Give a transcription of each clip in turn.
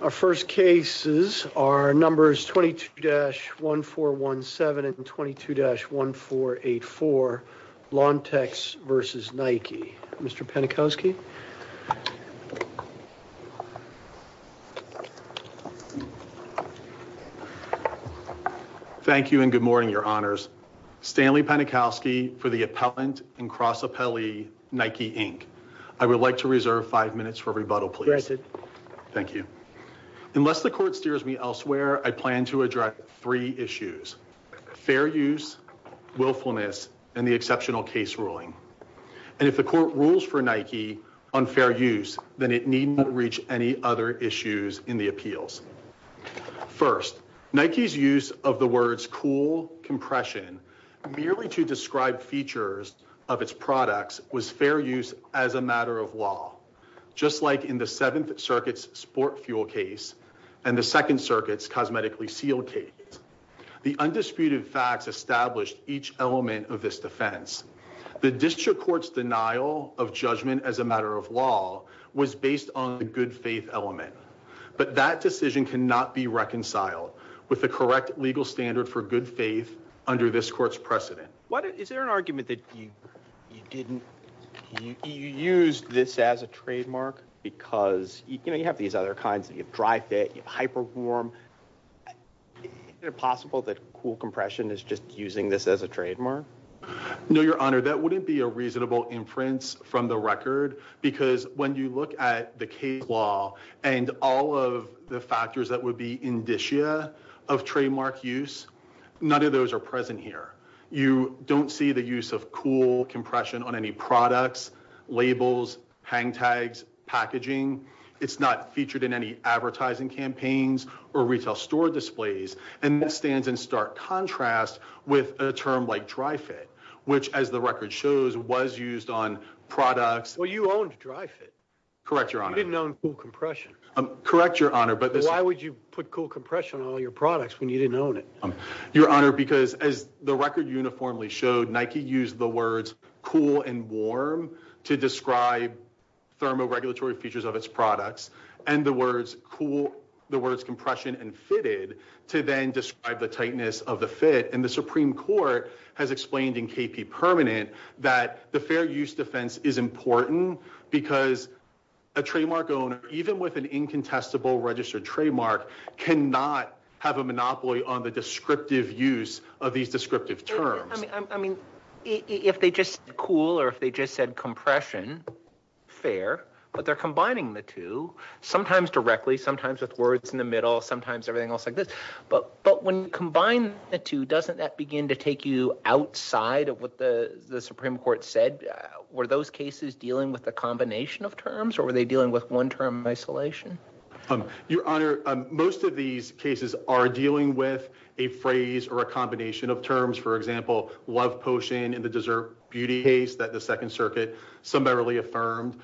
Our first cases are numbers 22-1417 and 22-1484, Lontex v. Nike. Mr. Penikowski? Thank you and good morning, your honors. Stanley Penikowski for the Appellant and Cross Appellee, Nike Inc. I would like to reserve five minutes for rebuttal, please. Thank you. Unless the court steers me elsewhere, I plan to address three issues. Fair use, willfulness, and the exceptional case ruling. And if the court rules for Nike on fair use, then it need not reach any other issues in the appeals. First, Nike's use of the words cool, compression, merely to describe features of its products, was fair use as a matter of law. Just like in the 7th Circuit's sport fuel case and the 2nd Circuit's cosmetically sealed case. The undisputed facts established each element of this defense. The district court's denial of judgment as a matter of law was based on the good faith element. But that decision cannot be reconciled with the correct legal standard for good faith under this court's precedent. Is there an argument that you used this as a trademark because you have these other kinds, you have dry fit, you have hyper warm. Is it possible that cool compression is just using this as a trademark? No, your honor, that wouldn't be a reasonable inference from the record. Because when you look at the case law and all of the factors that would be indicia of trademark use, none of those are present here. You don't see the use of cool compression on any products, labels, hang tags, packaging. It's not featured in any advertising campaigns or retail store displays. And that stands in stark contrast with a term like dry fit, which as the record shows, was used on products. Well, you owned dry fit. Correct, your honor. You didn't own cool compression. Correct, your honor. But why would you put cool compression on all your products when you didn't own it? Your honor, because as the record uniformly showed, Nike used the words cool and warm to describe thermoregulatory features of its products. And the words cool, the words compression and fitted to then describe the tightness of the fit. And the Supreme Court has explained in KP Permanent that the fair use defense is important because a trademark owner, even with an incontestable registered trademark, cannot have a monopoly on the descriptive use of these descriptive terms. I mean if they just said cool or if they just said compression, fair. But they're combining the two, sometimes directly, sometimes with words in the middle, sometimes everything else like this. But when you combine the two, doesn't that begin to take you outside of what the Supreme Court said? Were those cases dealing with a combination of terms or were they dealing with one term isolation? Your honor, most of these cases are dealing with a phrase or a combination of terms. For example, love potion in the dessert beauty case that the Second Circuit summarily affirmed.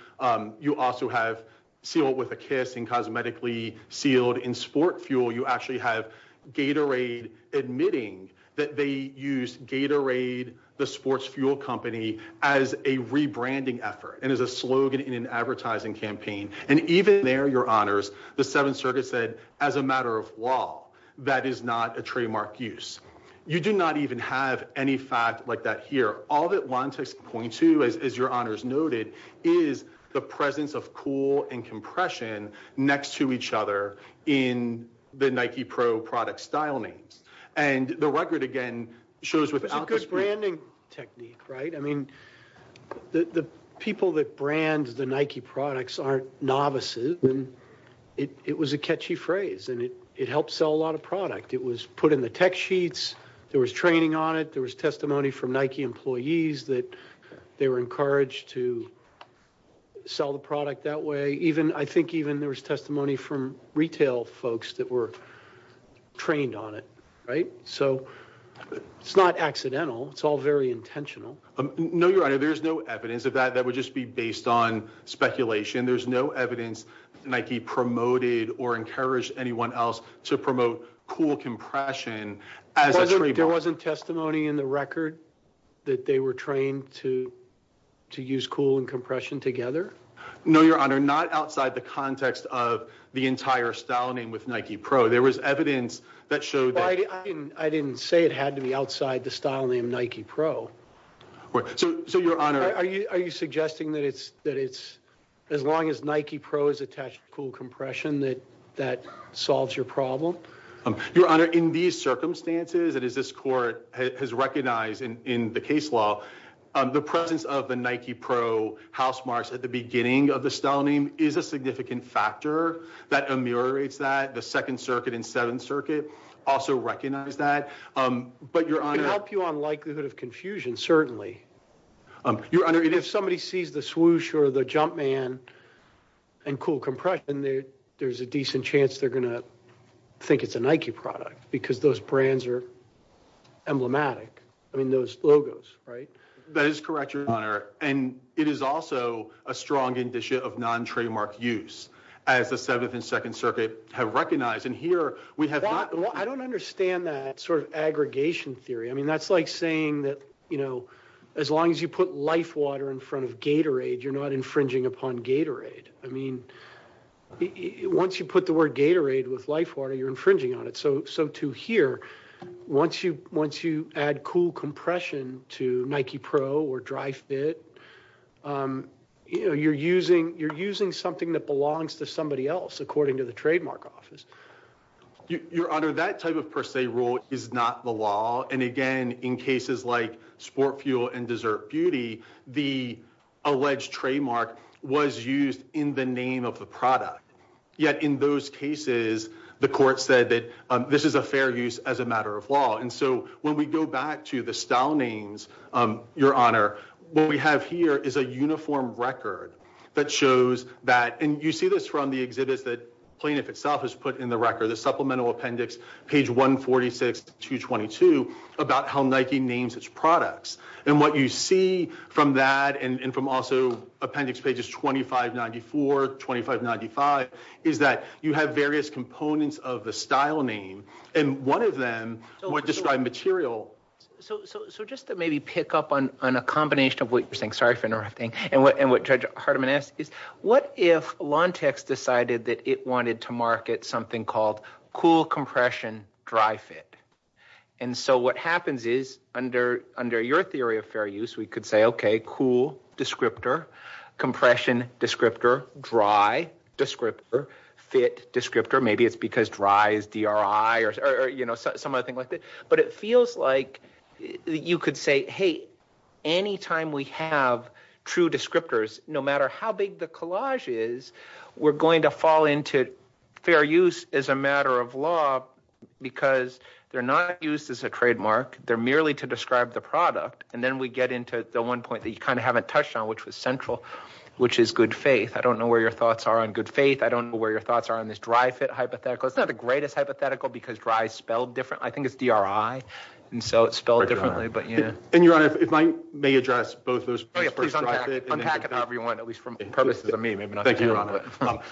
You also have sealed with a kiss and cosmetically sealed in sport fuel. You actually have Gatorade admitting that they use Gatorade, the sports fuel company, as a rebranding effort and as a slogan in an advertising campaign. And even there, your honors, the Seventh Circuit said as a matter of law, that is not a trademark use. You do not even have any fact like that here. All it wants is to point to, as your honors noted, is the presence of cool and compression next to each other in the Nike Pro product style names. And the record again shows without this branding technique, right? I mean the people that brand the Nike products aren't novices. It was a catchy phrase and it helped sell a lot of product. It was put in the tech sheets. There was training on it. There was testimony from Nike employees that they were encouraged to sell the product that way. Even I think even there was testimony from retail folks that were trained on it, right? So it's not accidental. It's all very intentional. No, your honor, there's no evidence of that. That would just be based on speculation. There's no evidence that Nike promoted or encouraged anyone else to promote cool compression as a trademark. There wasn't testimony in the record that they were trained to use cool and compression together? No, your honor, not outside the context of the entire style name with Nike Pro. There was evidence that showed that. I didn't say it had to be outside the style name Nike Pro. So, your honor, are you suggesting that it's as long as Nike Pro is attached to cool compression that that solves your problem? Your honor, in these circumstances that this court has recognized in the case law, the presence of the Nike Pro house marks at the beginning of the style name is a significant factor that ameliorates that. The Second Circuit and Seventh Circuit also recognize that. It could help you on likelihood of confusion, certainly. Your honor, if somebody sees the swoosh or the jump man and cool compression, there's a decent chance they're going to think it's a Nike product because those brands are emblematic. I mean, those logos, right? That is correct, your honor. And it is also a strong indicia of non-trademark use as the Seventh and Second Circuit have recognized. I don't understand that sort of aggregation theory. I mean, that's like saying that, you know, as long as you put LifeWater in front of Gatorade, you're not infringing upon Gatorade. I mean, once you put the word Gatorade with LifeWater, you're infringing on it. So to here, once you add cool compression to Nike Pro or DryFit, you're using something that belongs to somebody else, according to the trademark office. Your honor, that type of per se rule is not the law. And again, in cases like Sport Fuel and Dessert Beauty, the alleged trademark was used in the name of a product. Yet in those cases, the court said that this is a fair use as a matter of law. And so when we go back to the style names, your honor, what we have here is a uniform record that shows that. And you see this from the exhibit that plaintiff itself has put in the record, the supplemental appendix, page 146 to 22, about how Nike names its products. And what you see from that and from also appendix pages 2594, 2595, is that you have various components of the style name. And one of them would describe material. So just to maybe pick up on a combination of what you're saying, sorry for interrupting, and what Judge Hardiman asked, what if Lontex decided that it wanted to market something called cool compression DryFit? And so what happens is under your theory of fair use, we could say, okay, cool descriptor, compression descriptor, dry descriptor, fit descriptor. Maybe it's because dry is D-R-I or something like that. But it feels like you could say, hey, any time we have true descriptors, no matter how big the collage is, we're going to fall into fair use as a matter of law because they're not used as a trademark. They're merely to describe the product. And then we get into the one point that you kind of haven't touched on, which was central, which is good faith. I don't know where your thoughts are on good faith. I don't know where your thoughts are on this DryFit hypothetical. It's not the greatest hypothetical because dry is spelled different. I think it's D-R-I, and so it's spelled differently. And, Your Honor, if I may address both those questions. Please unpack it for everyone, at least for purposes of me. Thank you, Your Honor.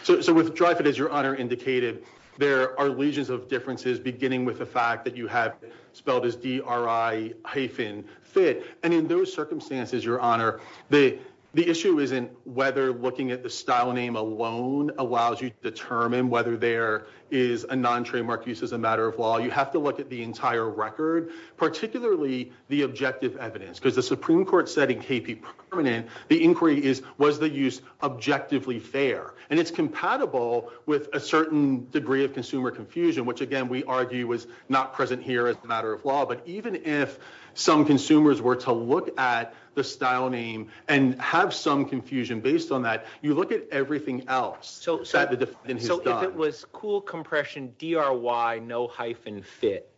So with DryFit, as Your Honor indicated, there are legions of differences beginning with the fact that you have spelled as D-R-I hyphen fit. And in those circumstances, Your Honor, the issue isn't whether looking at the style name alone allows you to determine whether there is a non-trademark use as a matter of law. You have to look at the entire record, particularly the objective evidence. Because the Supreme Court said in KP Permanent, the inquiry is, was the use objectively fair? And it's compatible with a certain degree of consumer confusion, which, again, we argue was not present here as a matter of law. But even if some consumers were to look at the style name and have some confusion based on that, you look at everything else. So if it was cool, compression, D-R-Y, no hyphen fit,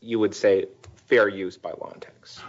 you would say fair use by Long-Tex?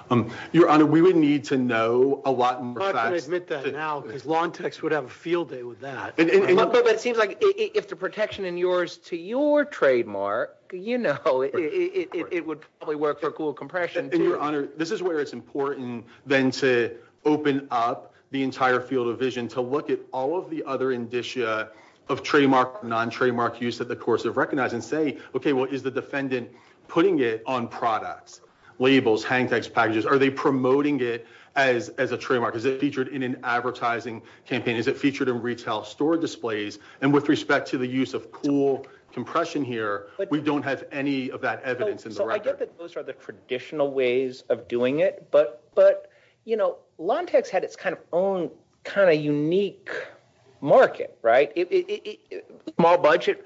Your Honor, we would need to know a lot more facts. I have to admit that now because Long-Tex would have a field day with that. But it seems like if the protection in yours to your trademark, you know, it would probably work for cool compression. And, Your Honor, this is where it's important then to open up the entire field of vision to look at all of the other indicia of trademark, non-trademark use that the courts have recognized and say, okay, well, is the defendant putting it on product, labels, handkerchiefs, packages? Are they promoting it as a trademark? Is it featured in an advertising campaign? Is it featured in retail store displays? And with respect to the use of cool compression here, we don't have any of that evidence in the record. So I get that those are the traditional ways of doing it. But, you know, Long-Tex had its kind of own kind of unique market, right? Small budget,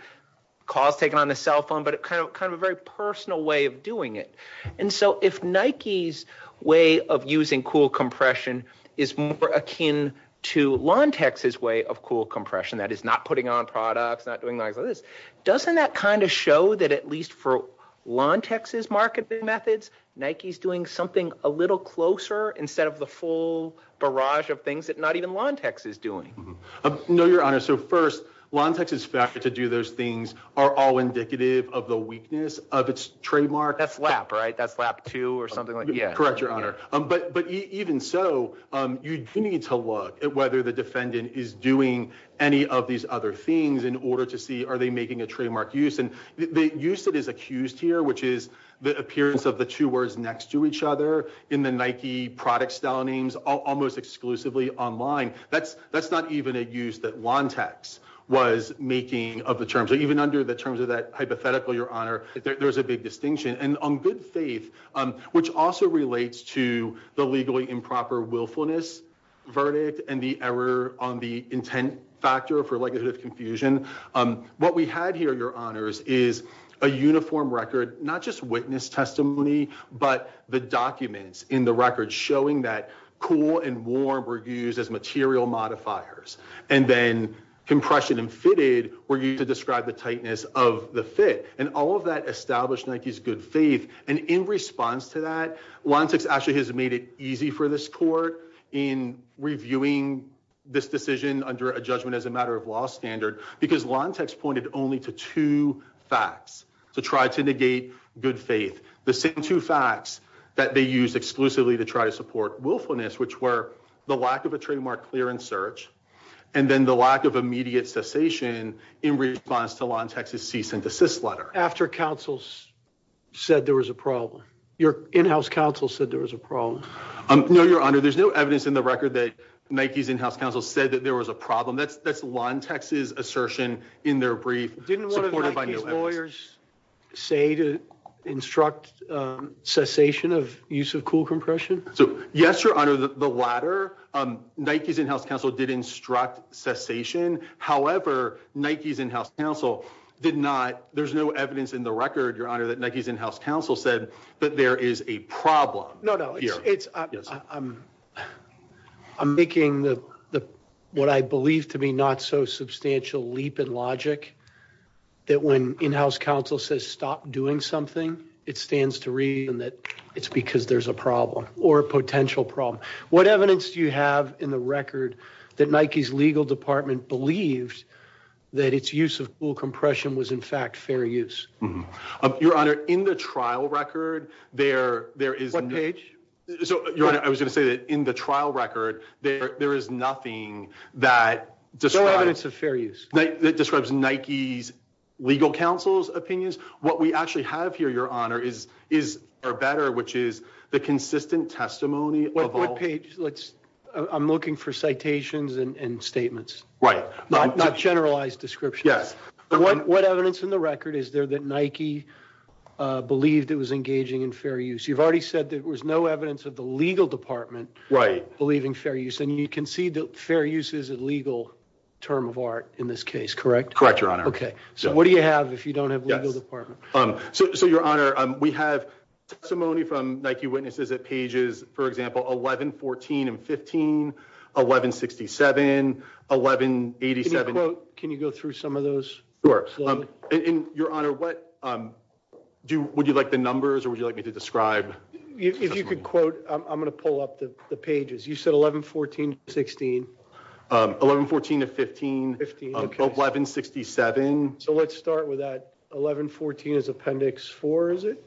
call taken on the cell phone, but kind of a very personal way of doing it. And so if Nike's way of using cool compression is more akin to Long-Tex's way of cool compression, that is not putting on products, not doing this, doesn't that kind of show that at least for Long-Tex's marketing methods, Nike's doing something a little closer instead of the full barrage of things that not even Long-Tex is doing? No, Your Honor. So first, Long-Tex is faster to do those things are all indicative of the weakness of its trademark. That's LAP, right? That's LAP 2 or something like that. Correct, Your Honor. But even so, you need to look at whether the defendant is doing any of these other things in order to see are they making a trademark use. And the use that is accused here, which is the appearance of the two words next to each other in the Nike product soundings almost exclusively online, that's not even a use that Long-Tex was making of the terms. So even under the terms of that hypothetical, Your Honor, there's a big distinction. And on good faith, which also relates to the legally improper willfulness verdict and the error on the intent factor for likelihood of confusion, what we had here, Your Honors, is a uniform record, not just witness testimony, but the documents in the record showing that cool and warm were used as material modifiers. And then compression and fitted were used to describe the tightness of the fit. And all of that established Nike's good faith. And in response to that, Long-Tex actually has made it easy for this court in reviewing this decision under a judgment as a matter of law standard because Long-Tex pointed only to two facts to try to negate good faith. The same two facts that they used exclusively to try to support willfulness, which were the lack of a trademark clearance search, and then the lack of immediate cessation in response to Long-Tex's cease and desist letter. After counsels said there was a problem. Your in-house counsel said there was a problem. No, Your Honor. There's no evidence in the record that Nike's in-house counsel said that there was a problem. That's Long-Tex's assertion in their brief. Didn't one of Nike's lawyers say to instruct cessation of use of cool compression? Yes, Your Honor. The latter, Nike's in-house counsel did instruct cessation. However, Nike's in-house counsel did not. There's no evidence in the record, Your Honor, that Nike's in-house counsel said that there is a problem. I'm making what I believe to be not so substantial leap in logic that when in-house counsel says stop doing something, it stands to reason that it's because there's a problem or a potential problem. What evidence do you have in the record that Nike's legal department believed that its use of cool compression was in fact fair use? Your Honor, in the trial record, there is nothing that describes Nike's legal counsel's opinions. What we actually have here, Your Honor, is better, which is the consistent testimony. I'm looking for citations and statements, not generalized descriptions. What evidence in the record is there that Nike believed it was engaging in fair use? You've already said there was no evidence of the legal department believing fair use. You can see that fair use is a legal term of art in this case, correct? Correct, Your Honor. What do you have if you don't have legal department? Your Honor, we have testimony from Nike witnesses at pages, for example, 11, 14, and 15, 11, 67, 11, 87. Can you go through some of those? Sure. Your Honor, would you like the numbers or would you like me to describe? If you could quote, I'm going to pull up the pages. You said 11, 14, 16. 11, 14, 15, 11, 67. So let's start with that. 11, 14 is appendix four, is it?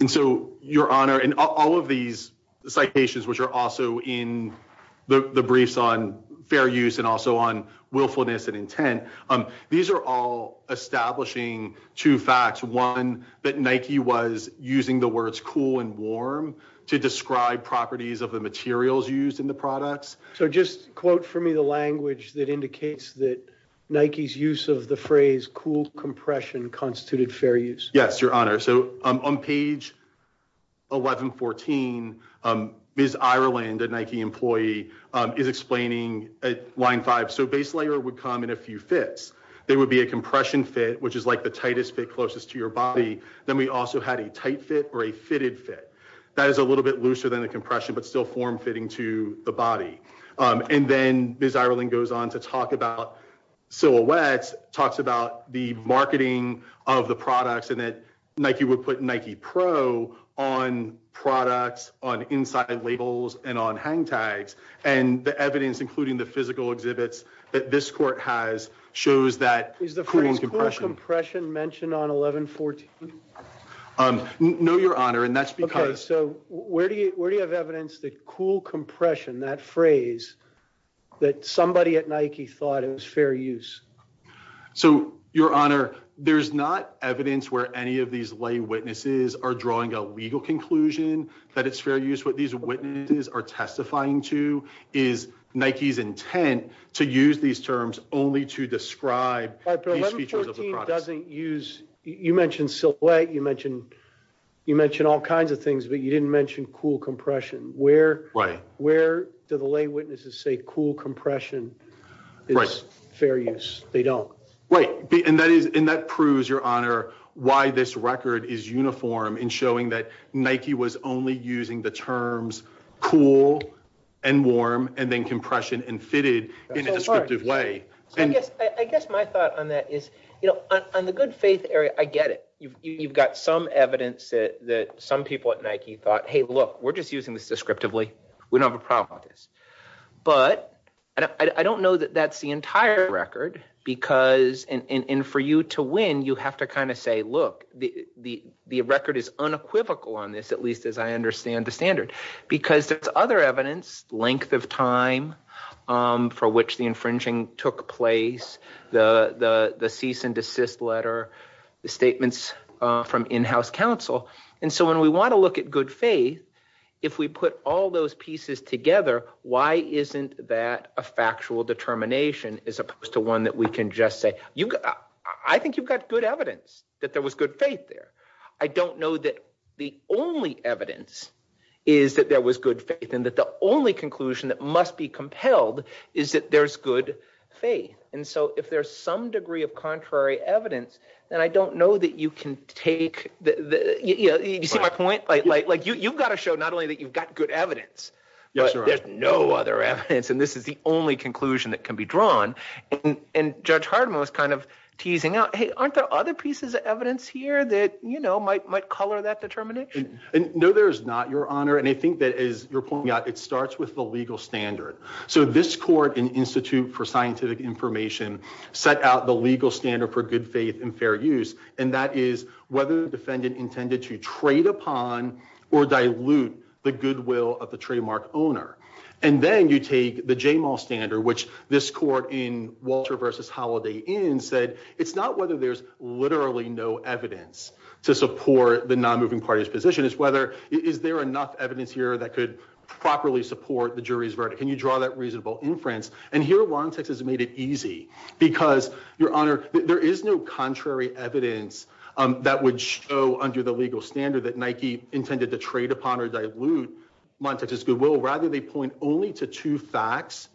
And so, Your Honor, in all of these citations, which are also in the briefs on fair use and also on willfulness and intent, these are all establishing two facts. One, that Nike was using the words cool and warm to describe properties of the materials used in the products. So just quote for me the language that indicates that Nike's use of the phrase cool compression constituted fair use. Yes, Your Honor. So on page 11, 14, Ms. Ireland, a Nike employee, is explaining line five. So base layer would come in a few fits. There would be a compression fit, which is like the tightest fit closest to your body. Then we also had a tight fit or a fitted fit. That is a little bit looser than a compression, but still form-fitting to the body. And then Ms. Ireland goes on to talk about Silhouette, talks about the marketing of the products in it. Nike would put Nike Pro on products, on inside labels, and on hang tags. And the evidence, including the physical exhibits that this court has, shows that cool and compression. Is the phrase cool compression mentioned on 11, 14? No, Your Honor. Okay. So where do you have evidence that cool compression, that phrase, that somebody at Nike thought it was fair use? So, Your Honor, there's not evidence where any of these lay witnesses are drawing a legal conclusion that it's fair use. What these witnesses are testifying to is Nike's intent to use these terms only to describe these features of the products. You mentioned Silhouette, you mentioned all kinds of things, but you didn't mention cool compression. Where do the lay witnesses say cool compression is fair use? They don't. Right. And that proves, Your Honor, why this record is uniform in showing that Nike was only using the terms cool and warm and then compression and fitted in a descriptive way. I guess my thought on that is, you know, on the good faith area, I get it. You've got some evidence that some people at Nike thought, hey, look, we're just using this descriptively. We don't have a problem with this. But I don't know that that's the entire record because, and for you to win, you have to kind of say, look, the record is unequivocal on this, at least as I understand the standard. Because there's other evidence, length of time for which the infringing took place, the cease and desist letter, the statements from in-house counsel. And so when we want to look at good faith, if we put all those pieces together, why isn't that a factual determination as opposed to one that we can just say, I think you've got good evidence that there was good faith there. I don't know that the only evidence is that there was good faith and that the only conclusion that must be compelled is that there's good faith. And so if there's some degree of contrary evidence, then I don't know that you can take – you see my point? Like you've got to show not only that you've got good evidence, but there's no other evidence, and this is the only conclusion that can be drawn. And Judge Harden was kind of teasing out, hey, aren't there other pieces of evidence here that might color that determination? No, there is not, Your Honor, and I think that as you're pointing out, it starts with the legal standard. So this court in the Institute for Scientific Information set out the legal standard for good faith and fair use, and that is whether the defendant intended to trade upon or dilute the goodwill of the trademark owner. And then you take the J-Mall standard, which this court in Walter v. Holiday Inn said it's not whether there's literally no evidence to support the non-moving party's position. It's whether – is there enough evidence here that could properly support the jury's verdict? Can you draw that reasonable inference? And here, Lontex has made it easy because, Your Honor, there is no contrary evidence that would show under the legal standard that Nike intended to trade upon or dilute Lontex's goodwill. Rather, they point only to two facts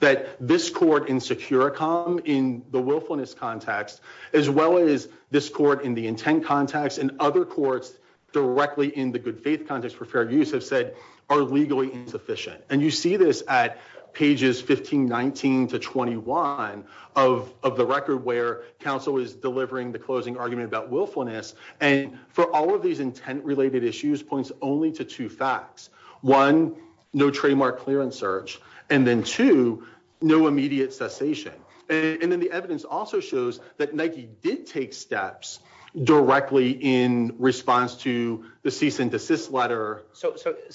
that this court in Securicom in the willfulness context, as well as this court in the intent context and other courts directly in the good faith context for fair use have said are legally insufficient. And you see this at pages 15, 19 to 21 of the record where counsel is delivering the closing argument about willfulness. And for all of these intent-related issues, points only to two facts. One, no trademark clearance search, and then two, no immediate cessation. And then the evidence also shows that Nike did take steps directly in response to the cease and desist letter. So can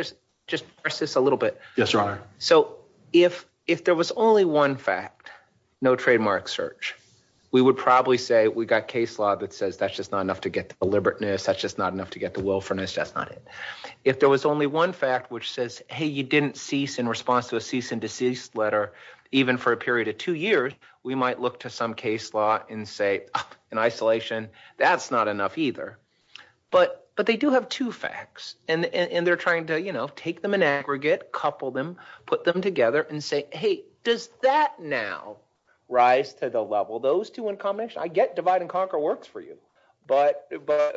I just ask this a little bit? Yes, Your Honor. So if there was only one fact, no trademark search, we would probably say we've got case law that says that's just not enough to get to deliberateness. That's just not enough to get to willfulness. That's not it. If there was only one fact which says, hey, you didn't cease in response to the cease and desist letter even for a period of two years, we might look to some case law and say, in isolation, that's not enough either. But they do have two facts, and they're trying to take them in aggregate, couple them, put them together, and say, hey, does that now rise to the level? Those two in combination, I get divide-and-conquer works for you, but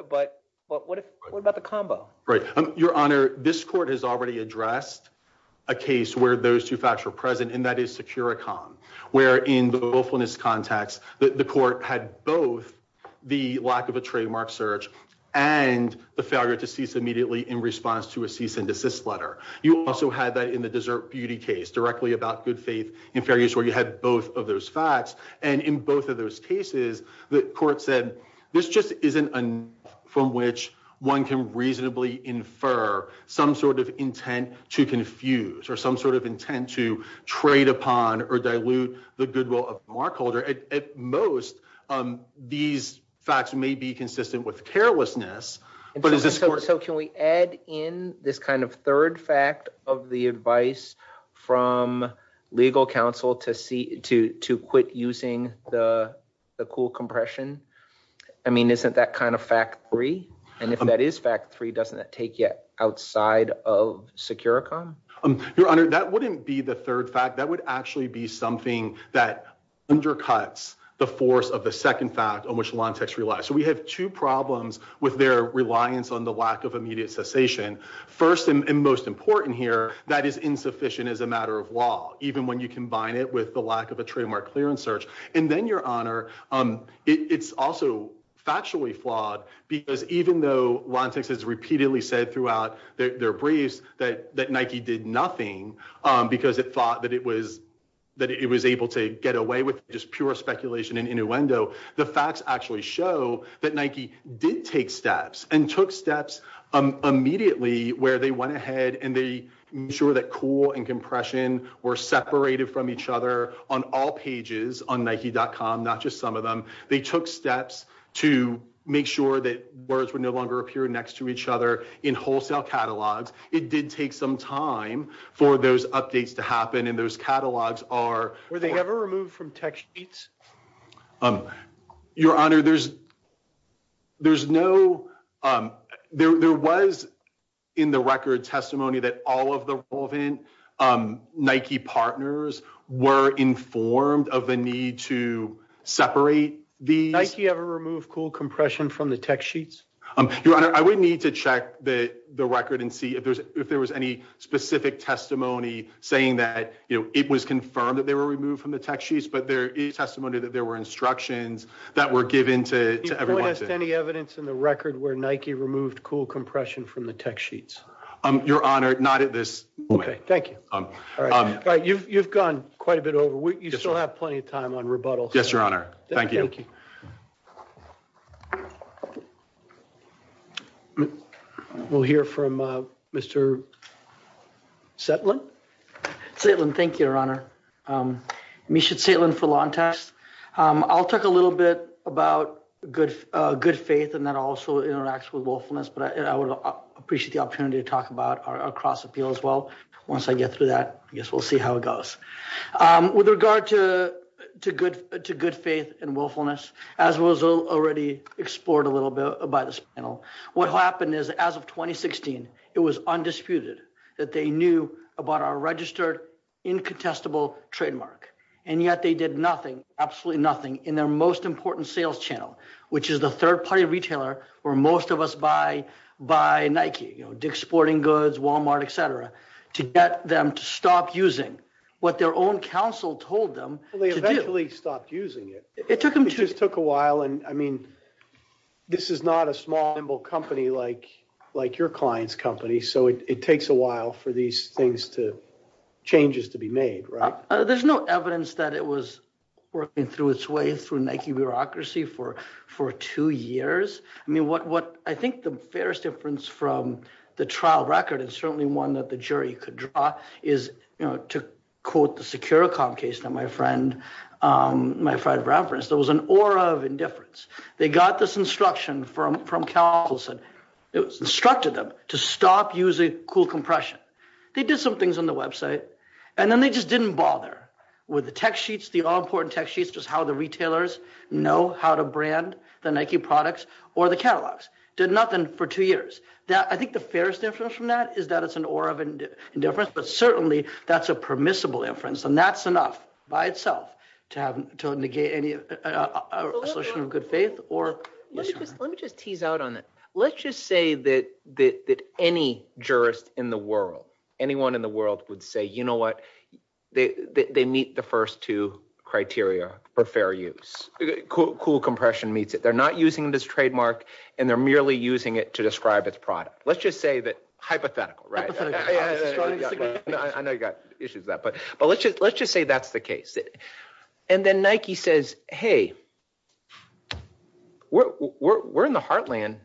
what about the combo? Right. Your Honor, this court has already addressed a case where those two facts were present, and that is Securicon, where in the willfulness context, the court had both the lack of a trademark search and the failure to cease immediately in response to a cease and desist letter. You also had that in the Desert Beauty case directly about good faith and fair use where you had both of those facts. And in both of those cases, the court said this just isn't enough from which one can reasonably infer some sort of intent to confuse or some sort of intent to trade upon or dilute the goodwill of the markholder. At most, these facts may be consistent with carelessness. So can we add in this kind of third fact of the advice from legal counsel to quit using the cool compression? I mean, isn't that kind of fact three? And if that is fact three, doesn't that take you outside of Securicon? Your Honor, that wouldn't be the third fact. That would actually be something that undercuts the force of the second fact on which Lantex relies. So we have two problems with their reliance on the lack of immediate cessation. First and most important here, that is insufficient as a matter of law, even when you combine it with the lack of a trademark clearance search. And then, Your Honor, it's also factually flawed because even though Lantex has repeatedly said throughout their briefs that Nike did nothing because it thought that it was able to get away with just pure speculation and innuendo, the facts actually show that Nike did take steps and took steps immediately where they went ahead and they ensured that cool and compression were separated from each other on all pages on Nike.com, not just some of them. They took steps to make sure that words would no longer appear next to each other in wholesale catalogs. It did take some time for those updates to happen, and those catalogs are— Your Honor, there's no—there was in the record testimony that all of the relevant Nike partners were informed of the need to separate the— Nike ever removed cool compression from the text sheets? Your Honor, I would need to check the record and see if there was any specific testimony saying that it was confirmed that they were removed from the text sheets, but there is testimony that there were instructions that were given to everyone to— Do you have any evidence in the record where Nike removed cool compression from the text sheets? Your Honor, not at this point. Okay, thank you. All right. You've gone quite a bit over. You still have plenty of time on rebuttals. Yes, Your Honor. Thank you. We'll hear from Mr. Saitlin. Saitlin, thank you, Your Honor. Misha Saitlin for Law & Tax. I'll talk a little bit about good faith and that also interacts with willfulness, but I would appreciate the opportunity to talk about our cross-appeal as well. Once I get through that, I guess we'll see how it goes. With regard to good faith and willfulness, as was already explored a little bit by this panel, what happened is, as of 2016, it was undisputed that they knew about our registered, incontestable trademark. And yet they did nothing, absolutely nothing, in their most important sales channel, which is the third-party retailer where most of us buy Nike, Dick's Sporting Goods, Walmart, et cetera, to get them to stop using what their own counsel told them to do. They eventually stopped using it. It took them— It just took a while. I mean, this is not a small, nimble company like your client's company, so it takes a while for these things to—changes to be made, right? There's no evidence that it was working through its way through Nike bureaucracy for two years. I mean, what I think the fairest difference from the trial record and certainly one that the jury could draw is, you know, to quote the Securicon case that my friend referenced, there was an aura of indifference. They got this instruction from counsel. It instructed them to stop using cool compression. They did some things on the website, and then they just didn't bother with the text sheets, the all-important text sheets, just how the retailers know how to brand the Nike products or the catalogs. Did nothing for two years. I think the fairest difference from that is that it's an aura of indifference, but certainly that's a permissible inference, and that's enough by itself to negate any assertion of good faith or— Let me just tease out on it. Let's just say that any jurist in the world, anyone in the world would say, you know what? They meet the first two criteria for fair use. Cool compression meets it. They're not using this trademark, and they're merely using it to describe its product. Let's just say that—hypothetical, right? I know you've got issues with that, but let's just say that's the case. And then Nike says, hey, we're in the heartland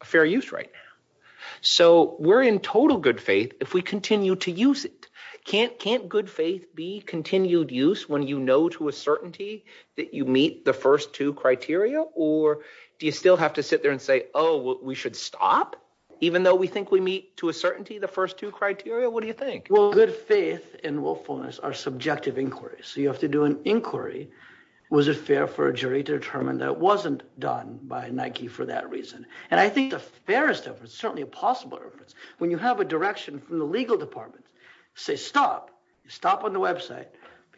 of fair use right now, so we're in total good faith if we continue to use it. Can't good faith be continued use when you know to a certainty that you meet the first two criteria? Or do you still have to sit there and say, oh, we should stop even though we think we meet to a certainty the first two criteria? What do you think? Well, good faith and willfulness are subjective inquiries, so you have to do an inquiry. Was it fair for a jury to determine that it wasn't done by Nike for that reason? And I think the fairest of, certainly possible, when you have a direction from the legal department, say stop. Stop on the website.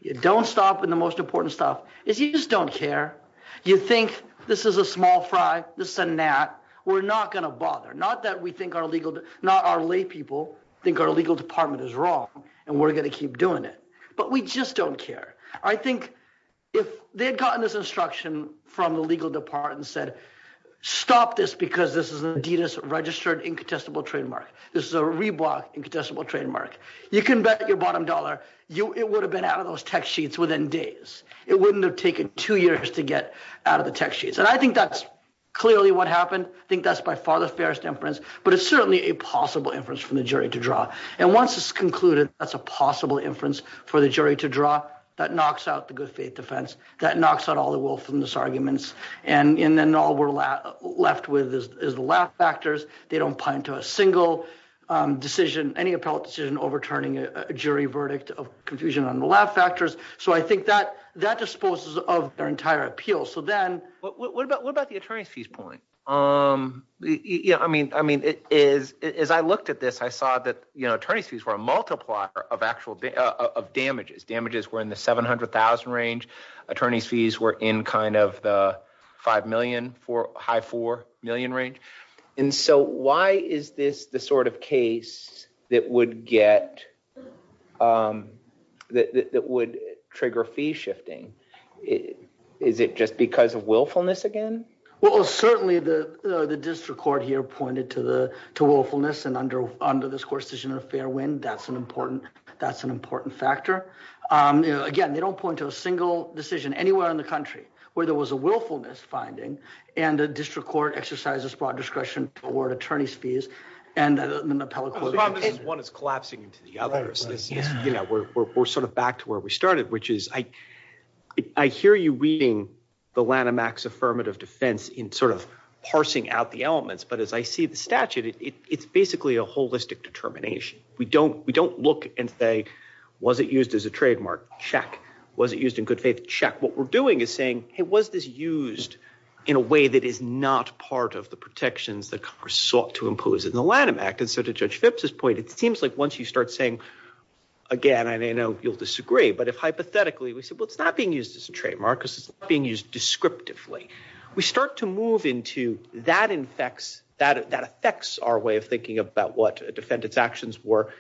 You don't stop in the most important stuff. If you just don't care, you think this is a small fry, this is a gnat, we're not going to bother. Not that we think our legal, not our lay people think our legal department is wrong and we're going to keep doing it, but we just don't care. I think if they had gotten this instruction from the legal department and said, stop this because this is an Adidas registered incontestable trademark. This is a Reebok incontestable trademark. You can bet your bottom dollar. It would have been out of those text sheets within days. It wouldn't have taken two years to get out of the text sheets. And I think that's clearly what happened. I think that's by far the fairest inference, but it's certainly a possible inference from the jury to draw. And once it's concluded, that's a possible inference for the jury to draw. That knocks out the good faith defense. That knocks out all the wolf in this arguments. And then all we're left with is the laugh factors. They don't put into a single decision, any appellate decision, overturning a jury verdict of confusion on the laugh factors. So I think that that disposes of their entire appeal. So then what about what about the attorneys fees point? I mean, I mean, it is as I looked at this, I saw that, you know, attorneys fees were a multiplier of actual of damages. Damages were in the seven hundred thousand range. Attorneys fees were in kind of the five million for high four million range. And so why is this the sort of case that would get that would trigger fee shifting? Is it just because of willfulness again? Well, certainly the district court here pointed to the to willfulness and under under this court decision of fair win. That's an important that's an important factor. Again, they don't point to a single decision anywhere in the country where there was a willfulness finding. And the district court exercises broad discretion toward attorneys fees. And one is collapsing to the others. Yeah, we're sort of back to where we started, which is I hear you reading the Lanham X affirmative defense in sort of parsing out the elements. But as I see the statute, it's basically a holistic determination. We don't we don't look and say, was it used as a trademark? Check. Was it used in good faith? Check. What we're doing is saying, hey, was this used in a way that is not part of the protections that Congress sought to impose in the Lanham Act? And so to judge this point, it seems like once you start saying again, I know you'll disagree. But if hypothetically, we said, well, it's not being used as a trademark. This is being used descriptively. We start to move into that infects that that affects our way of thinking about what a defendant's actions were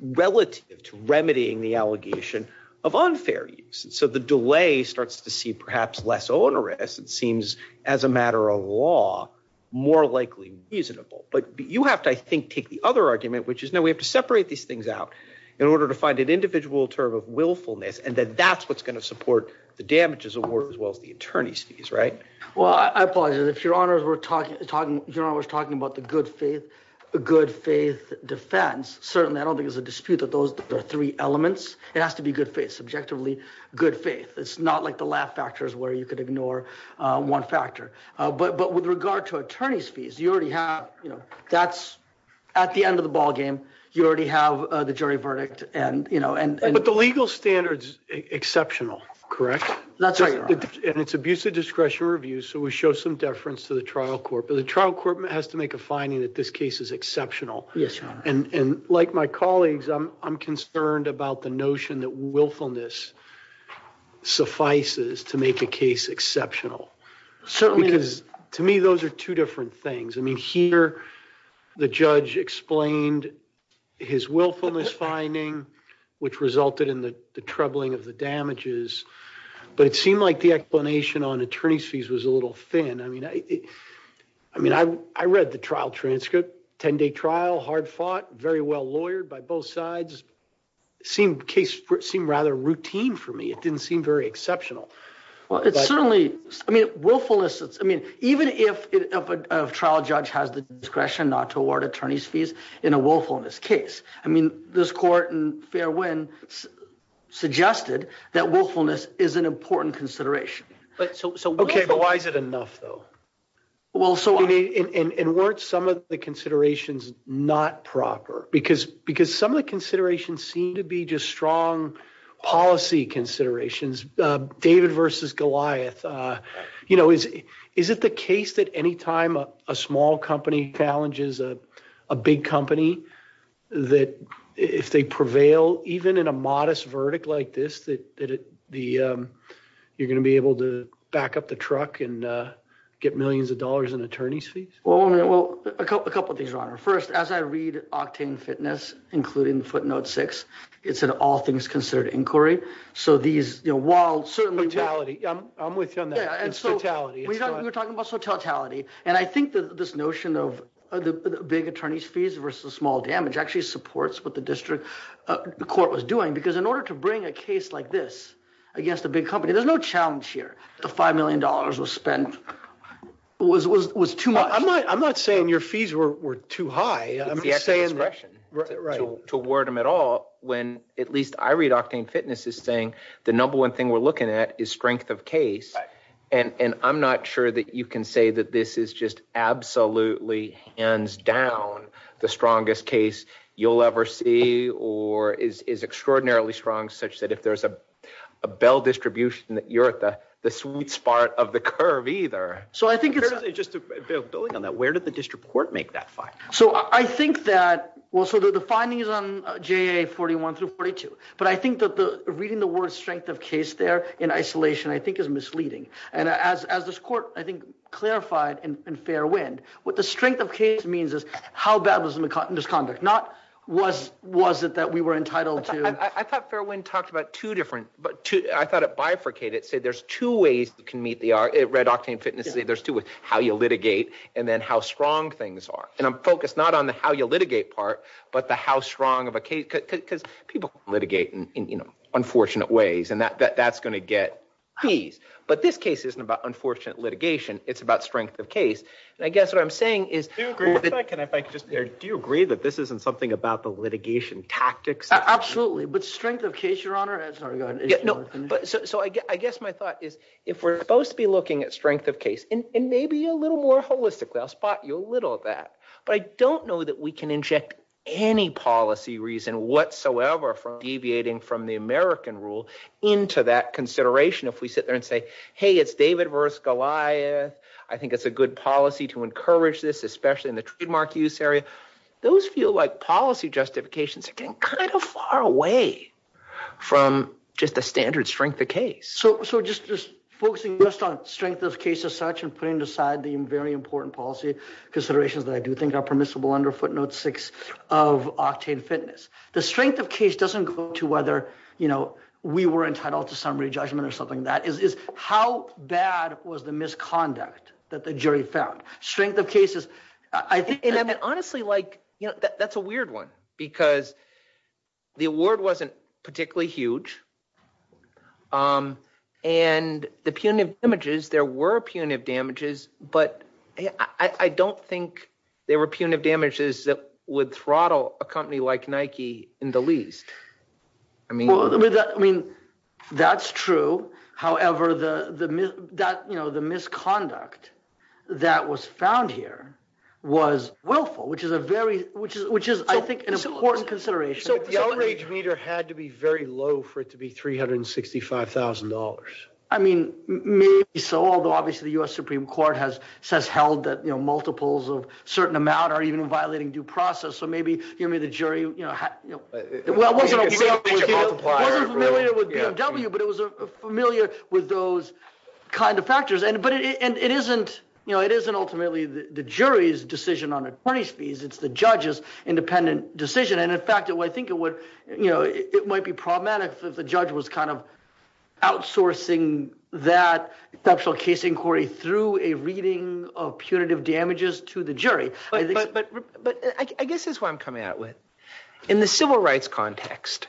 relative to remedying the allegation of unfair use. So the delay starts to see perhaps less onerous. It seems as a matter of law, more likely reasonable. But you have to, I think, take the other argument, which is now we have to separate these things out in order to find an individual term of willfulness. And then that's what's going to support the damages award as well as the attorney's fees. Right. Well, I apologize if your honor, we're talking talking. You're always talking about the good faith, the good faith defense. Certainly, I don't think it's a dispute of those three elements. It has to be good faith, subjectively good faith. It's not like the lab factors where you could ignore one factor. But but with regard to attorney's fees, you already have that's at the end of the ballgame. You already have the jury verdict. And, you know, and. But the legal standards exceptional. Correct. That's right. And it's abusive discretion review. So we show some deference to the trial court. But the trial court has to make a finding that this case is exceptional. Yes. And like my colleagues, I'm I'm concerned about the notion that willfulness suffices to make the case exceptional. Because to me, those are two different things. I mean, here the judge explained his willfulness finding, which resulted in the troubling of the damages. But it seemed like the explanation on attorney's fees was a little thin. I mean, I mean, I read the trial transcript, 10 day trial, hard fought, very well lawyered by both sides. Seemed case seemed rather routine for me. It didn't seem very exceptional. Well, it's certainly I mean, willfulness. I mean, even if a trial judge has the discretion not to award attorney's fees in a willfulness case. I mean, this court and Fairwin suggested that willfulness is an important consideration. So why is it enough, though? Well, so it weren't some of the considerations not proper because because some of the considerations seem to be just strong policy considerations. David versus Goliath. You know, is it the case that any time a small company challenges a big company that if they prevail, even in a modest verdict like this, that the you're going to be able to back up the truck and get millions of dollars in attorney's fees? Well, a couple of these are on our first as I read Octane Fitness, including footnote six, it's an all things considered inquiry. So these are wild, certain mentality. And so we were talking about totality. And I think that this notion of the big attorney's fees versus small damage actually supports what the district court was doing, because in order to bring a case like this against the big company, there's no challenge here. The five million dollars was spent was was was too much. I'm not saying your fees were too high. Right. So to word them at all, when at least I read Octane Fitness is saying the number one thing we're looking at is strength of case. And I'm not sure that you can say that this is just absolutely hands down the strongest case you'll ever see or is extraordinarily strong, such that if there's a Bell distribution that you're at the sweet spot of the curve either. So I think it's just building on that. Where did the district court make that fight? So I think that also the findings on J.A. 41 to 42. But I think that the reading the word strength of case there in isolation, I think, is misleading. And as as this court, I think, clarified in Fairwind, what the strength of case means is how bad was the misconduct? Not was was it that we were entitled to? I thought Fairwind talked about two different but I thought it bifurcated. It said there's two ways we can meet the red octane fitness. There's two with how you litigate and then how strong things are. And I'm focused not on the how you litigate part, but the how strong of a case because people litigate in unfortunate ways and that that's going to get fees. But this case isn't about unfortunate litigation. It's about strength of case. And I guess what I'm saying is, do you agree that this isn't something about the litigation tactics? Absolutely. But strength of case, your honor. So I guess my thought is if we're supposed to be looking at strength of case and maybe a little more holistically, I'll spot you a little of that. But I don't know that we can inject any policy reason whatsoever for deviating from the American rule into that consideration. If we sit there and say, hey, it's David versus Goliath. I think it's a good policy to encourage this, especially in the trademark use area. Those feel like policy justifications are kind of far away from just the standard strength of case. So just focusing on strength of case as such and putting aside the very important policy considerations that I do think are permissible under footnote six of octane fitness. The strength of case doesn't go to whether, you know, we were entitled to summary judgment or something. That is how bad was the misconduct that the jury found strength of cases? And honestly, like, you know, that's a weird one because the award wasn't particularly huge. And the punitive damages, there were punitive damages, but I don't think there were punitive damages that would throttle a company like Nike in the least. I mean, I mean, that's true. However, the that, you know, the misconduct that was found here was willful, which is a very which is which is, I think, an important consideration. So the average meter had to be very low for it to be three hundred and sixty five thousand dollars. I mean, maybe so, although obviously the US Supreme Court has held that multiples of certain amount are even violating due process. So maybe, you know, the jury, you know. Well, we're familiar with W, but it was familiar with those kind of factors. And but it isn't you know, it isn't ultimately the jury's decision on a price fees. It's the judge's independent decision. And in fact, I think it would you know, it might be problematic if the judge was kind of outsourcing that special case inquiry through a reading of punitive damages to the jury. But I guess that's what I'm coming out with in the civil rights context.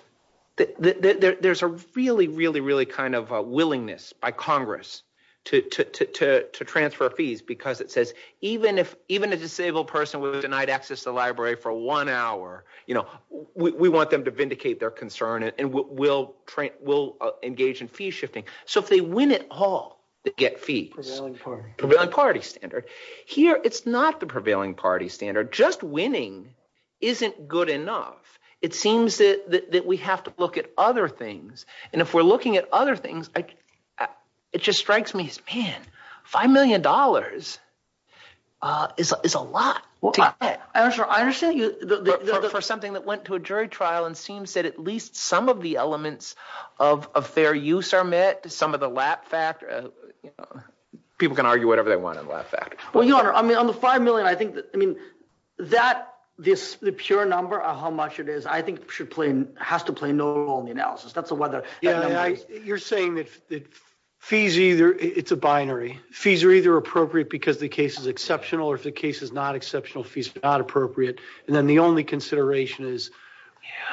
There's a really, really, really kind of willingness by Congress to to to to transfer fees because it says even if even a disabled person was denied access to the library for one hour, you know, we want them to vindicate their concern and we'll we'll engage in fee shifting. So if they win at all, they get fees for the party standard here. It's not the prevailing party standard. Just winning isn't good enough. It seems that we have to look at other things. And if we're looking at other things, it just strikes me. Man, five million dollars is a lot. I assure you that for something that went to a jury trial and seems that at least some of the elements of fair use are met. Some of the lap fact people can argue whatever they want. Well, your honor, I mean, I'm five million. I think I mean that this the pure number of how much it is, I think, should play has to play no role in the analysis. That's the weather. You're saying that the fees either it's a binary. Fees are either appropriate because the case is exceptional or if the case is not exceptional, fees are not appropriate. And then the only consideration is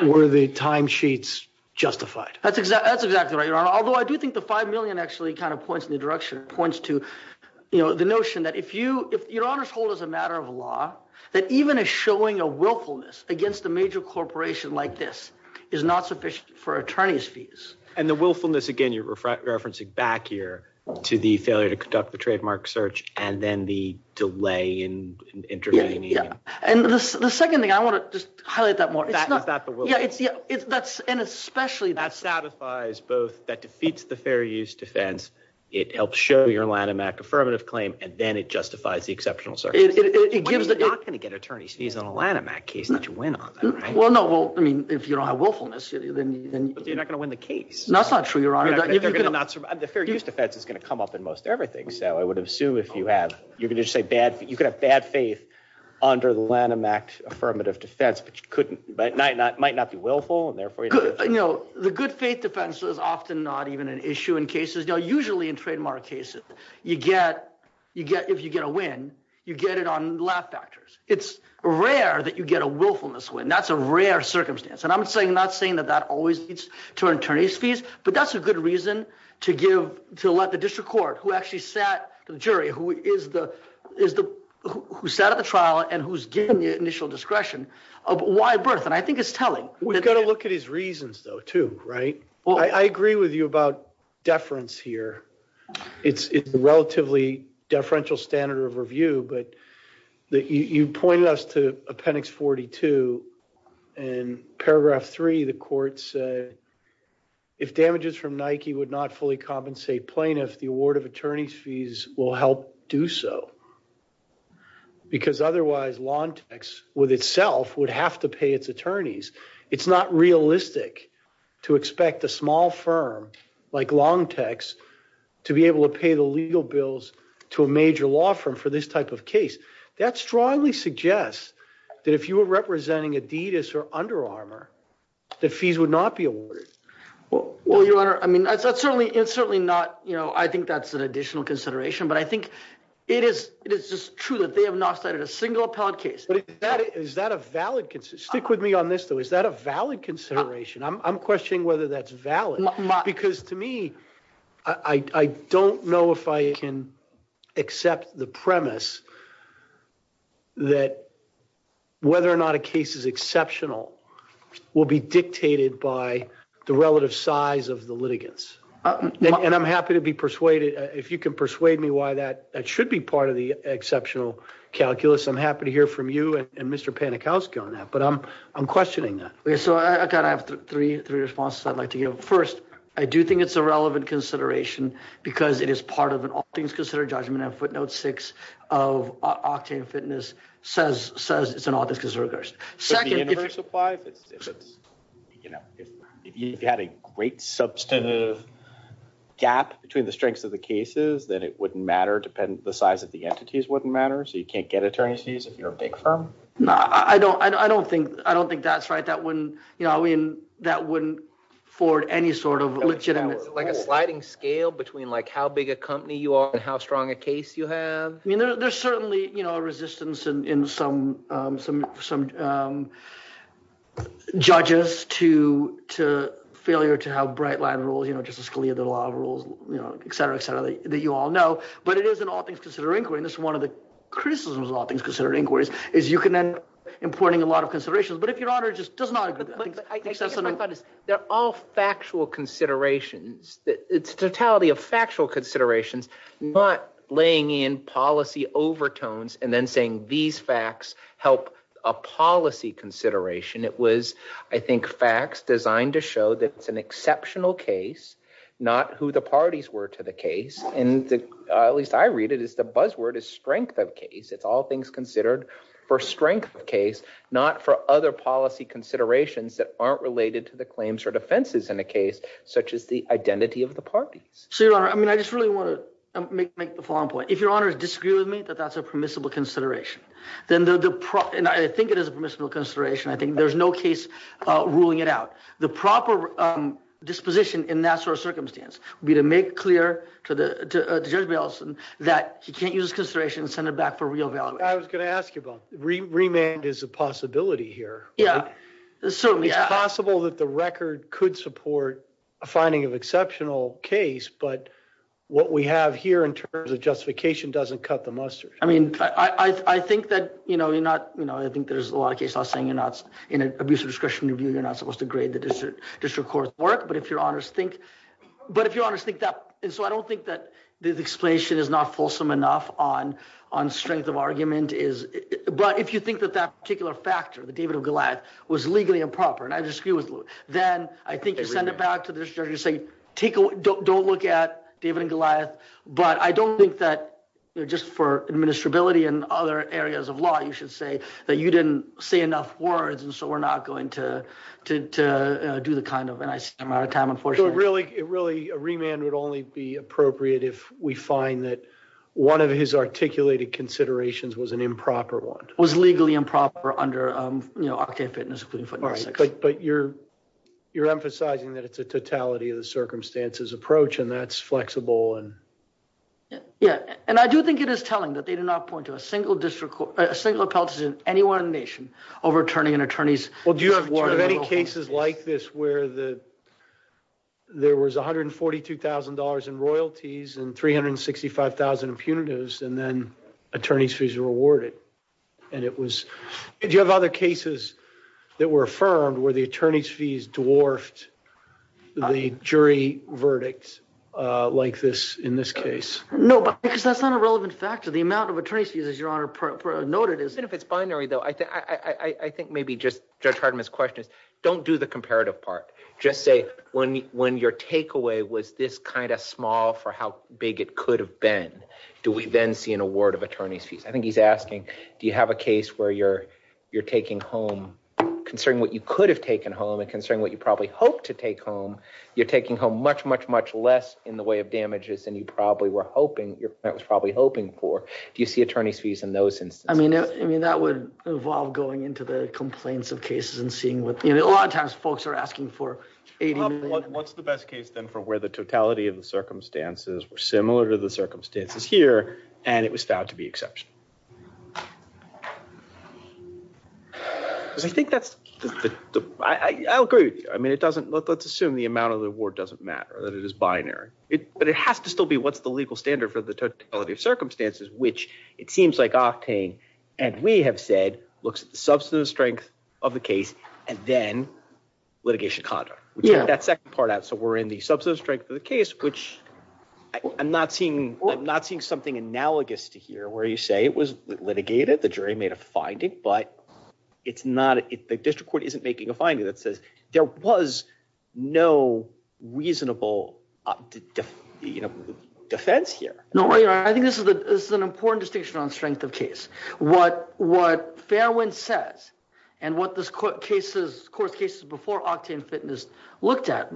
where the timesheets justified. That's exactly right. Although I do think the five million actually kind of points in the direction points to the notion that if you if your honor's hold is a matter of law, that even a showing a willfulness against the major corporation like this is not sufficient for attorney's fees. And the willfulness again, you're referencing back here to the failure to conduct the trademark search and then the delay in intervening. Yeah. And the second thing I want to just highlight that more about that. Yeah. And especially that satisfies both that defeats the fair use defense. It helps show your line in that affirmative claim and then it justifies the exceptional. So it gives the attorney's fees on a line in that case. Not to win. Well, no. Well, I mean, if you don't have willfulness, then you're not going to win the case. The fair use defense is going to come up in most everything. So I would assume if you have you can just say bad that you could have bad faith under the Lanham Act affirmative defense, but you couldn't. But not not might not be willful. And therefore, you know, the good faith defense is often not even an issue in cases. Now, usually in trademark cases, you get you get if you get a win, you get it on lab factors. It's rare that you get a willfulness when that's a rare circumstance. And I'm saying not saying that that always leads to an attorney's fees. But that's a good reason to give to let the district court who actually sat the jury, who is the is the who set up a trial and who's given the initial discretion of why birth. And I think it's telling we've got to look at his reasons, though, too. Right. Well, I agree with you about deference here. It's relatively deferential standard of review. But you pointed us to appendix forty two and paragraph three. The court said if damages from Nike would not fully compensate plaintiff, the award of attorney's fees will help do so. Because otherwise, long text with itself would have to pay its attorneys. It's not realistic to expect a small firm like long text to be able to pay the legal bills to a major law firm for this type of case. That strongly suggests that if you were representing Adidas or Under Armour, the fees would not be awarded. Well, you are. I mean, that's certainly it's certainly not. You know, I think that's an additional consideration. But I think it is it is just true that they have not started a single pod case. Is that a valid stick with me on this, though, is that a valid consideration? I'm questioning whether that's valid, because to me, I don't know if I can accept the premise. That whether or not a case is exceptional will be dictated by the relative size of the litigants. And I'm happy to be persuaded if you can persuade me why that that should be part of the exceptional calculus. I'm happy to hear from you and Mr. Panikowsky on that. But I'm I'm questioning that. So I kind of have three three responses I'd like to give. First, I do think it's a relevant consideration because it is part of it. All things considered, judgment and footnote six of Octane Fitness says says it's an office. Second, if you had a great substantive gap between the strengths of the cases, then it wouldn't matter. Depend the size of the entities wouldn't matter. So you can't get attorneys if you're a big firm. No, I don't I don't think I don't think that's right. That wouldn't you know, I mean, that wouldn't afford any sort of legitimate like a sliding scale between like how big a company you are and how strong a case you have. I mean, there's certainly, you know, resistance in some some some judges to to failure to have bright line rules, you know, just as clear the law rules, you know, et cetera, et cetera, that you all know. But it is in all things considering this one of the criticisms of all things considered inquiries is you can end up importing a lot of considerations. But if your honor just does not accept that all factual considerations, it's totality of factual considerations, not laying in policy overtones and then saying these facts help a policy consideration. It was, I think, facts designed to show that it's an exceptional case, not who the parties were to the case. And at least I read it is the buzzword is strength of case. It's all things considered for strength of case, not for other policy considerations that aren't related to the claims or defenses in a case such as the identity of the parties. So, you know, I mean, I just really want to make the following point. If your honor disagree with me that that's a permissible consideration, then the prop and I think it is a miserable consideration. I think there's no case ruling it out. The proper disposition in that sort of circumstance would be to make clear to the judge that you can't use consideration, send it back for re-evaluation. I was going to ask you about remand is a possibility here. Yeah. It's possible that the record could support a finding of exceptional case. But what we have here in terms of justification doesn't cut the mustard. I mean, I think that, you know, you're not, you know, I think there's a lot of cases saying you're not in an abuse of discretion review. You're not supposed to grade the district court's work. But if your honors think. But if your honors think that. And so I don't think that this explanation is not fulsome enough on on strength of argument is. But if you think that that particular factor, the David of Goliath, was legally improper, and I disagree with you, then I think you send it back to the district judge and say, don't look at David and Goliath. But I don't think that just for administrability and other areas of law, you should say that you didn't say enough words. And so we're not going to do the kind of. And I'm out of time. Unfortunately, really, really, a remand would only be appropriate if we find that one of his articulated considerations was an improper one. Was legally improper under, you know, our campaign. But you're you're emphasizing that it's a totality of the circumstances approach and that's flexible. And, yeah, and I do think it is telling that they did not point to a single district, a single policy in any one nation overturning an attorney's. Well, do you have any cases like this where the. There was one hundred and forty two thousand dollars in royalties and three hundred and sixty five thousand impunities and then attorney's fees were awarded. And it was you have other cases that were affirmed where the attorney's fees dwarfed the jury verdicts like this in this case. No, because that's not a relevant factor. The amount of attorney's fees, as your honor noted, is benefits binary, though. I think maybe just try to miss questions. Don't do the comparative part. Just say when when your takeaway was this kind of small for how big it could have been. Do we then see an award of attorney's fees? I think he's asking, do you have a case where you're you're taking home concerning what you could have taken home and considering what you probably hope to take home? You're taking home much, much, much less in the way of damages than you probably were hoping that was probably hoping for. Do you see attorney's fees in those? I mean, I mean, that would involve going into the complaints of cases and seeing what a lot of times folks are asking for. What's the best case, then, for where the totality of the circumstances were similar to the circumstances here and it was found to be exception? I think that's the I agree. I mean, it doesn't look let's assume the amount of the award doesn't matter, that it is binary. But it has to still be what's the legal standard for the totality of circumstances, which it seems like octane. And we have said looks substantive strength of the case and then litigation. Yeah, that's that part. So we're in the substance strength of the case, which I'm not seeing. I'm not seeing something analogous to here where you say it was litigated. The jury made a finding, but it's not the district court isn't making a finding that says there was no reasonable defense here. No, I think this is an important distinction on strength of case. What what Fairwind said and what this court cases court cases before Octane Fitness looked at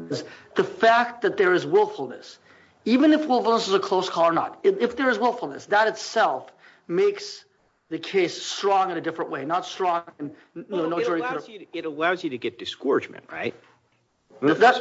the fact that there is willfulness, even if willfulness is a close call or not. If there is willfulness, that itself makes the case strong in a different way, not strong. It allows you to get discouragement, right? That's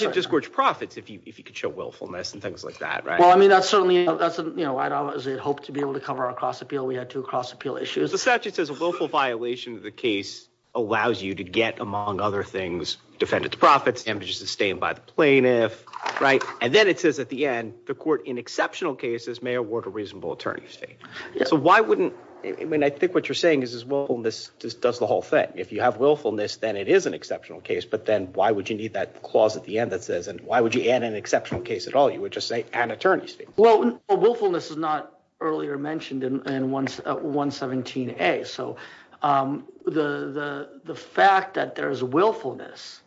a discourage profits if you could show willfulness and things like that. Well, I mean, that's certainly that's, you know, I don't hope to be able to cover a cross appeal. We had two cross appeal issues. The statute is a local violation. The case allows you to get, among other things, defend its profits and sustain by plaintiff. Right. And then it says at the end, the court in exceptional cases may award a reasonable attorney's fee. So why wouldn't I mean, I think what you're saying is, well, this does the whole thing. If you have willfulness, then it is an exceptional case. But then why would you need that clause at the end that says and why would you add an exceptional case at all? You would just say an attorney. Well, willfulness is not earlier mentioned in one one 17. So the the fact that there is a willfulness.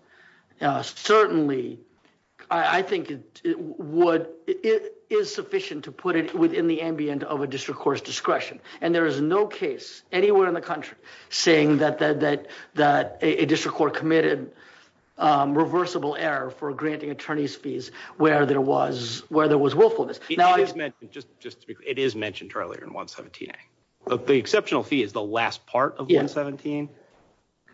Certainly, I think it would it is sufficient to put it within the ambience of a district court's discretion. And there is no case anywhere in the country saying that that that that a district court committed reversible error for granting attorney's fees where there was where there was willfulness. Now, I just meant just it is mentioned earlier in one 17. But the exceptional fee is the last part of the 17.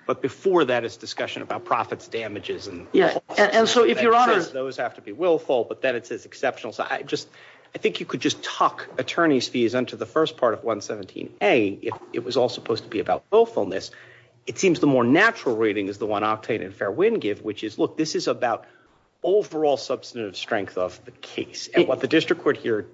But before that, it's discussion about profits, damages and. Yeah. And so if you're honest, those have to be willful. But then it is exceptional. So I just I think you could just talk attorney's fees into the first part of one 17. It was all supposed to be about willfulness. It seems the more natural rating is the one octane and fair wind give, which is look, this is about overall substantive strength of the case. And what the district court here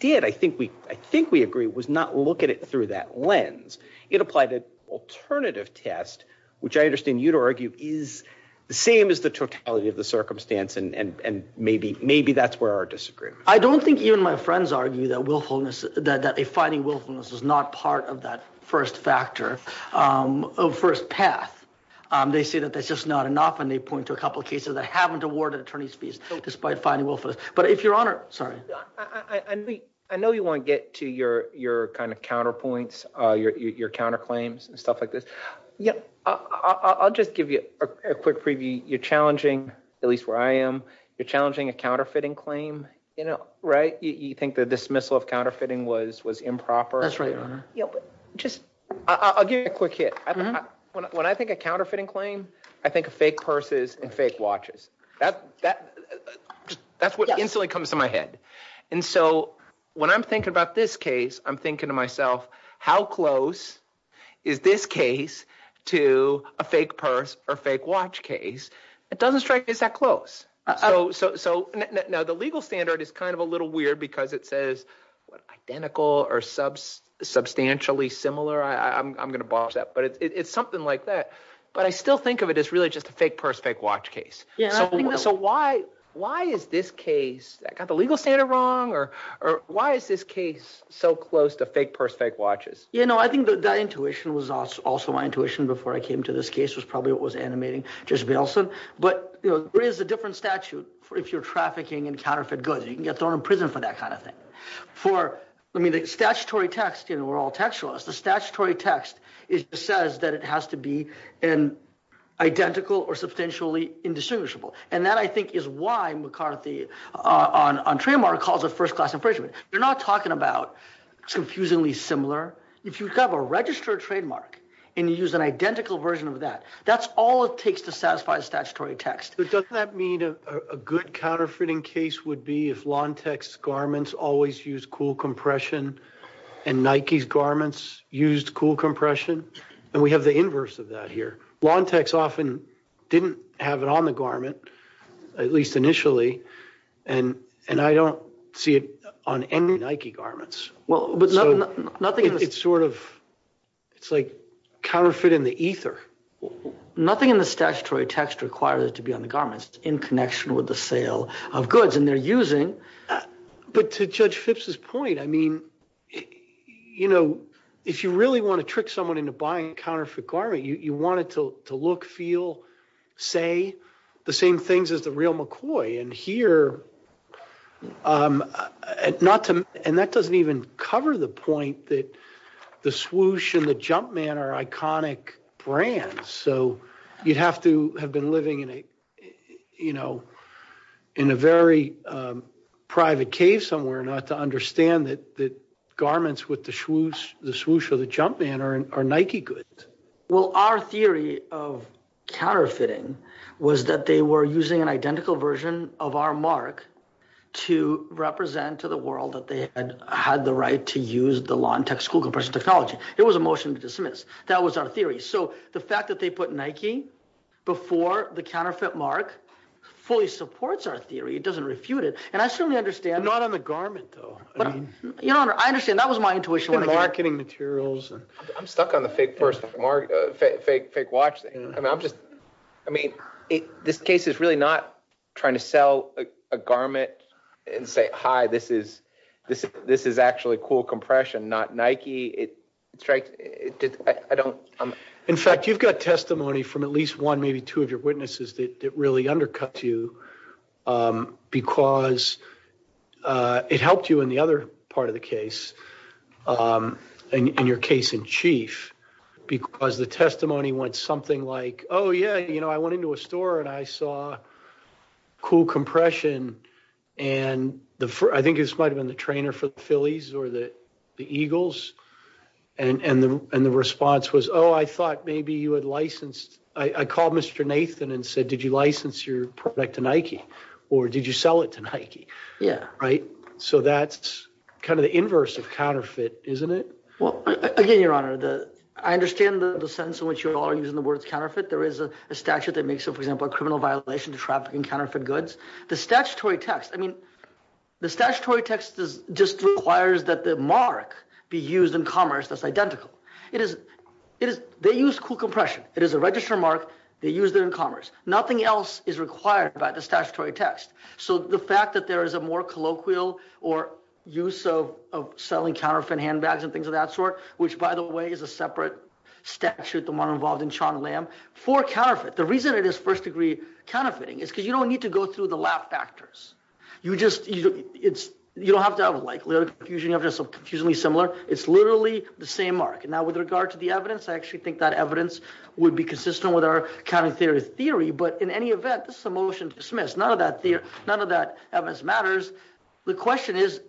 did, I think we I think we agree was not look at it through that lens. It applied the alternative test, which I understand you to argue is the same as the totality of the circumstance. And maybe maybe that's where our disagreement. I don't think even my friends argue that willfulness that a fighting willfulness is not part of that first factor of first path. They say that that's just not enough. And they point to a couple of cases that haven't awarded attorney's fees despite fighting willful. Sorry. I know you want to get to your your kind of counterpoints, your counterclaims and stuff like this. Yeah. I'll just give you a quick preview. You're challenging, at least where I am. You're challenging a counterfeiting claim. You know. Right. You think the dismissal of counterfeiting was was improper. That's right. Just I'll give you a quick hit. When I think a counterfeiting claim, I think of fake purses and fake watches that that that's what instantly comes to my head. And so when I'm thinking about this case, I'm thinking to myself, how close is this case to a fake purse or fake watch case? It doesn't strike me as that close. So now the legal standard is kind of a little weird because it says identical or sub substantially similar. I'm going to bar that. But it's something like that. But I still think of it as really just a fake purse, fake watch case. Yeah. So why why is this case that got the legal standard wrong or or why is this case so close to fake purse, fake watches? You know, I think that intuition was also my intuition before I came to this case was probably what was animating. There's also. But there is a different statute for if you're trafficking in counterfeit goods. You can get thrown in prison for that kind of thing for the statutory text. And we're all textualist. The statutory text says that it has to be an identical or substantially indistinguishable. And that, I think, is why McCarthy on trademark calls a first class infringement. You're not talking about confusingly similar. If you have a registered trademark and you use an identical version of that, that's all it takes to satisfy statutory text. Does that mean a good counterfeiting case would be if long text garments always use cool compression and Nike's garments used cool compression? And we have the inverse of that here. Long text often didn't have it on the garment, at least initially. And and I don't see it on any Nike garments. Well, nothing. It's sort of it's like counterfeit in the ether. Nothing in the statutory text requires it to be on the garments in connection with the sale of goods and they're using. But to judge Fitz's point, I mean, you know, if you really want to trick someone into buying counterfeit garment, you want it to look, feel, say the same things as the real McCoy. And here not to. And that doesn't even cover the point that the swoosh and the jump man are iconic brands. So you'd have to have been living in a, you know, in a very private cave somewhere not to understand that the garments with the shoes, the swoosh or the jump man are Nike goods. Well, our theory of counterfeiting was that they were using an identical version of our mark to represent to the world that they had had the right to use the long text school compression technology. It was a motion to dismiss. That was our theory. So the fact that they put Nike before the counterfeit mark fully supports our theory. It doesn't refute it. And I certainly understand. Not on the garment, though. You know, I understand. That was my intuition. Marketing materials. I'm stuck on the fake versus fake watch. I mean, this case is really not trying to sell a garment and say, hi, this is this. This is actually cool compression, not Nike. I don't. In fact, you've got testimony from at least one, maybe two of your witnesses that really undercut you because it helped you in the other part of the case and your case in chief because the testimony went something like, oh, yeah, you know, I went into a store and I saw cool compression. And I think this might have been the trainer for the Phillies or the Eagles. And the response was, oh, I thought maybe you had licensed. I called Mr. Nathan and said, did you license your product to Nike or did you sell it to Nike? Yeah. Right. So that's kind of the inverse of counterfeit, isn't it? Well, I understand the sense in which you're all using the word counterfeit. There is a statute that makes, for example, a criminal violation to trafficking counterfeit goods. The statutory text. I mean, the statutory text just requires that the mark be used in commerce that's identical. It is. They use cool compression. It is a registered mark. They use it in commerce. Nothing else is required by the statutory text. So the fact that there is a more colloquial or use of selling counterfeit handbags and things of that sort, which, by the way, is a separate statute. The reason it is first degree counterfeiting is because you don't need to go through the lab factors. You just it's you don't have that. Like, we're usually similar. It's literally the same mark. Now, with regard to the evidence, I actually think that evidence would be consistent with our counterfeit theory. But in any event, this is a motion to dismiss. None of that. None of that matters. The question is,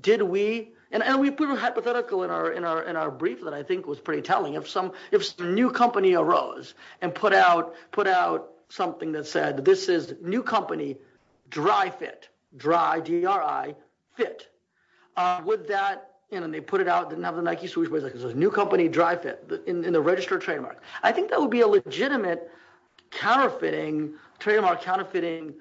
did we and we put a hypothetical in our in our in our brief that I think was pretty telling of some. It's the new company arose and put out, put out something that said this is new company. Dry fit, dry, dry fit with that. And they put it out. Never like you. So it was a new company. Drive it in the register trademark. I think that would be a legitimate counterfeiting trademark, counterfeiting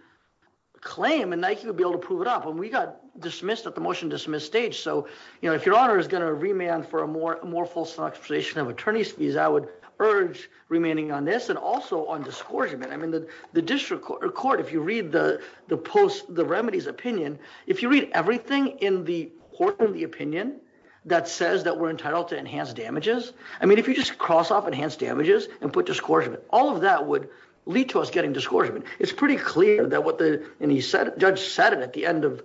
claim. And Nike would be able to prove it up. And we got dismissed at the motion dismiss stage. So, you know, if your honor is going to remand for a more, more false accusation of attorney's fees, I would urge remaining on this and also on discouragement. I mean, the district court, if you read the post, the remedies opinion, if you read everything in the court of the opinion that says that we're entitled to enhance damages. I mean, if you just cross off enhanced damages and put discouragement, all of that would lead to us getting discouragement. It's pretty clear that what the judge said at the end of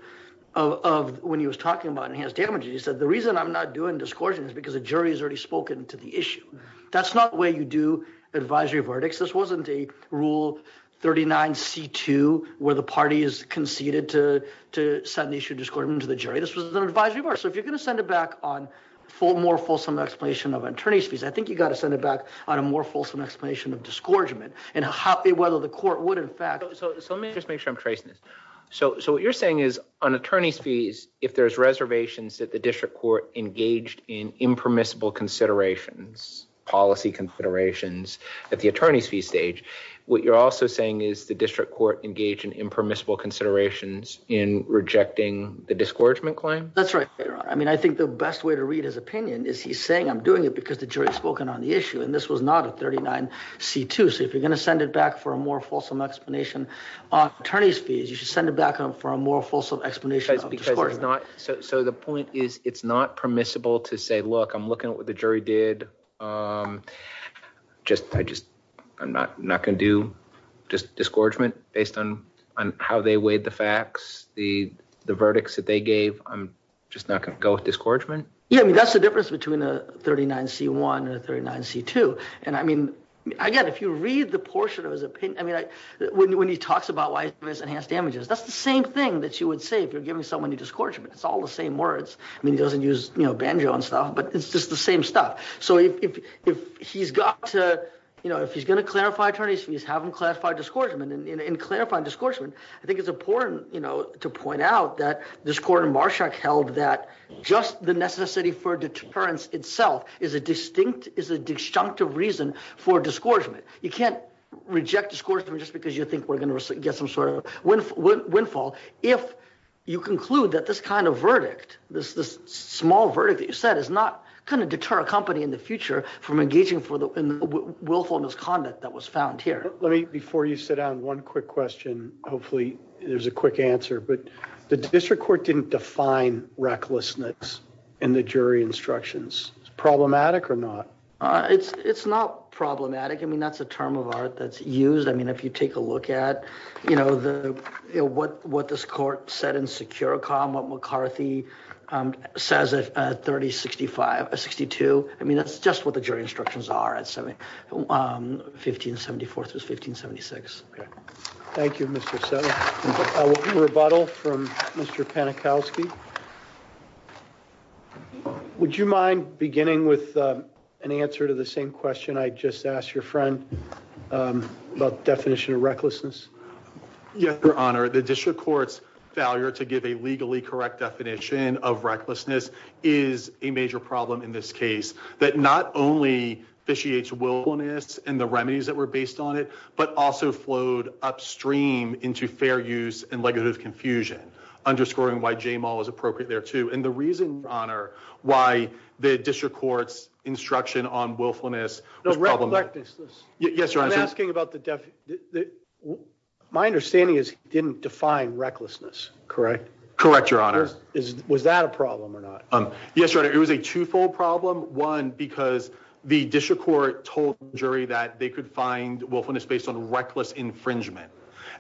of when he was talking about enhanced damages, he said, the reason I'm not doing this court is because the jury has already spoken to the issue. That's not where you do advisory verdicts. This wasn't the rule. Thirty nine C2, where the party is conceded to to set an issue discordant to the jury. This was an advisory board. So if you're going to send it back on for more fulsome explanation of attorney's fees, I think you've got to send it back on a more fulsome explanation of discouragement. And whether the court would in fact. So let me just make sure I'm tracing this. So what you're saying is on attorney's fees, if there's reservations that the district court engaged in impermissible considerations, policy considerations at the attorney's fee stage. What you're also saying is the district court engaged in impermissible considerations in rejecting the discouragement claim. That's right. I mean, I think the best way to read his opinion is he's saying I'm doing it because the jury has spoken on the issue. And this was not a thirty nine C2. So if you're going to send it back for a more fulsome explanation, attorney's fees, you should send it back on for a more fulsome explanation. That's because it's not. So the point is it's not permissible to say, look, I'm looking at what the jury did. Just I just I'm not not going to do just discouragement based on how they weighed the facts. The the verdicts that they gave. I'm just not going to go with discouragement. You know, that's the difference between a thirty nine C1 and a thirty nine C2. And I mean, again, if you read the portion of his opinion, I mean, when he talks about life enhanced damages, that's the same thing that you would say if you're giving someone a discouragement. It's all the same words. I mean, he doesn't use banjo and stuff, but it's just the same stuff. So if he's got to, you know, if he's going to clarify attorney's fees, have him classify discouragement and clarify discouragement. I think it's important, you know, to point out that this court in Marshak held that just the necessity for deterrence itself is a distinct, is a disjunctive reason for discouragement. You can't reject discourse just because you think we're going to get some sort of windfall. If you conclude that this kind of verdict, this this small verdict, that is not going to deter a company in the future from engaging for the willful misconduct that was found here. Let me before you sit down, one quick question. Hopefully there's a quick answer. But the district court didn't define recklessness in the jury instructions. Problematic or not? It's not problematic. I mean, that's a term of art that's used. I mean, if you take a look at, you know, the what what this court said in Securecom McCarthy says that 30, 65, 62. I mean, that's just what the jury instructions are. And so 1574 to 1576. Thank you, Mr. So a rebuttal from Mr. Panikowski. Would you mind beginning with an answer to the same question I just asked your friend about definition of recklessness? Yes, Your Honor. The district court's failure to give a legally correct definition of recklessness is a major problem in this case. But not only that she hates willfulness and the remedies that were based on it, but also flowed upstream into fair use and legitimate confusion, underscoring why J-Mall is appropriate there, too. And the reason, Your Honor, why the district court's instruction on willfulness. Yes, Your Honor. My understanding is it didn't define recklessness, correct? Correct, Your Honor. Is was that a problem or not? Yes, Your Honor. It was a twofold problem. One, because the district court told the jury that they could find willfulness based on reckless infringement.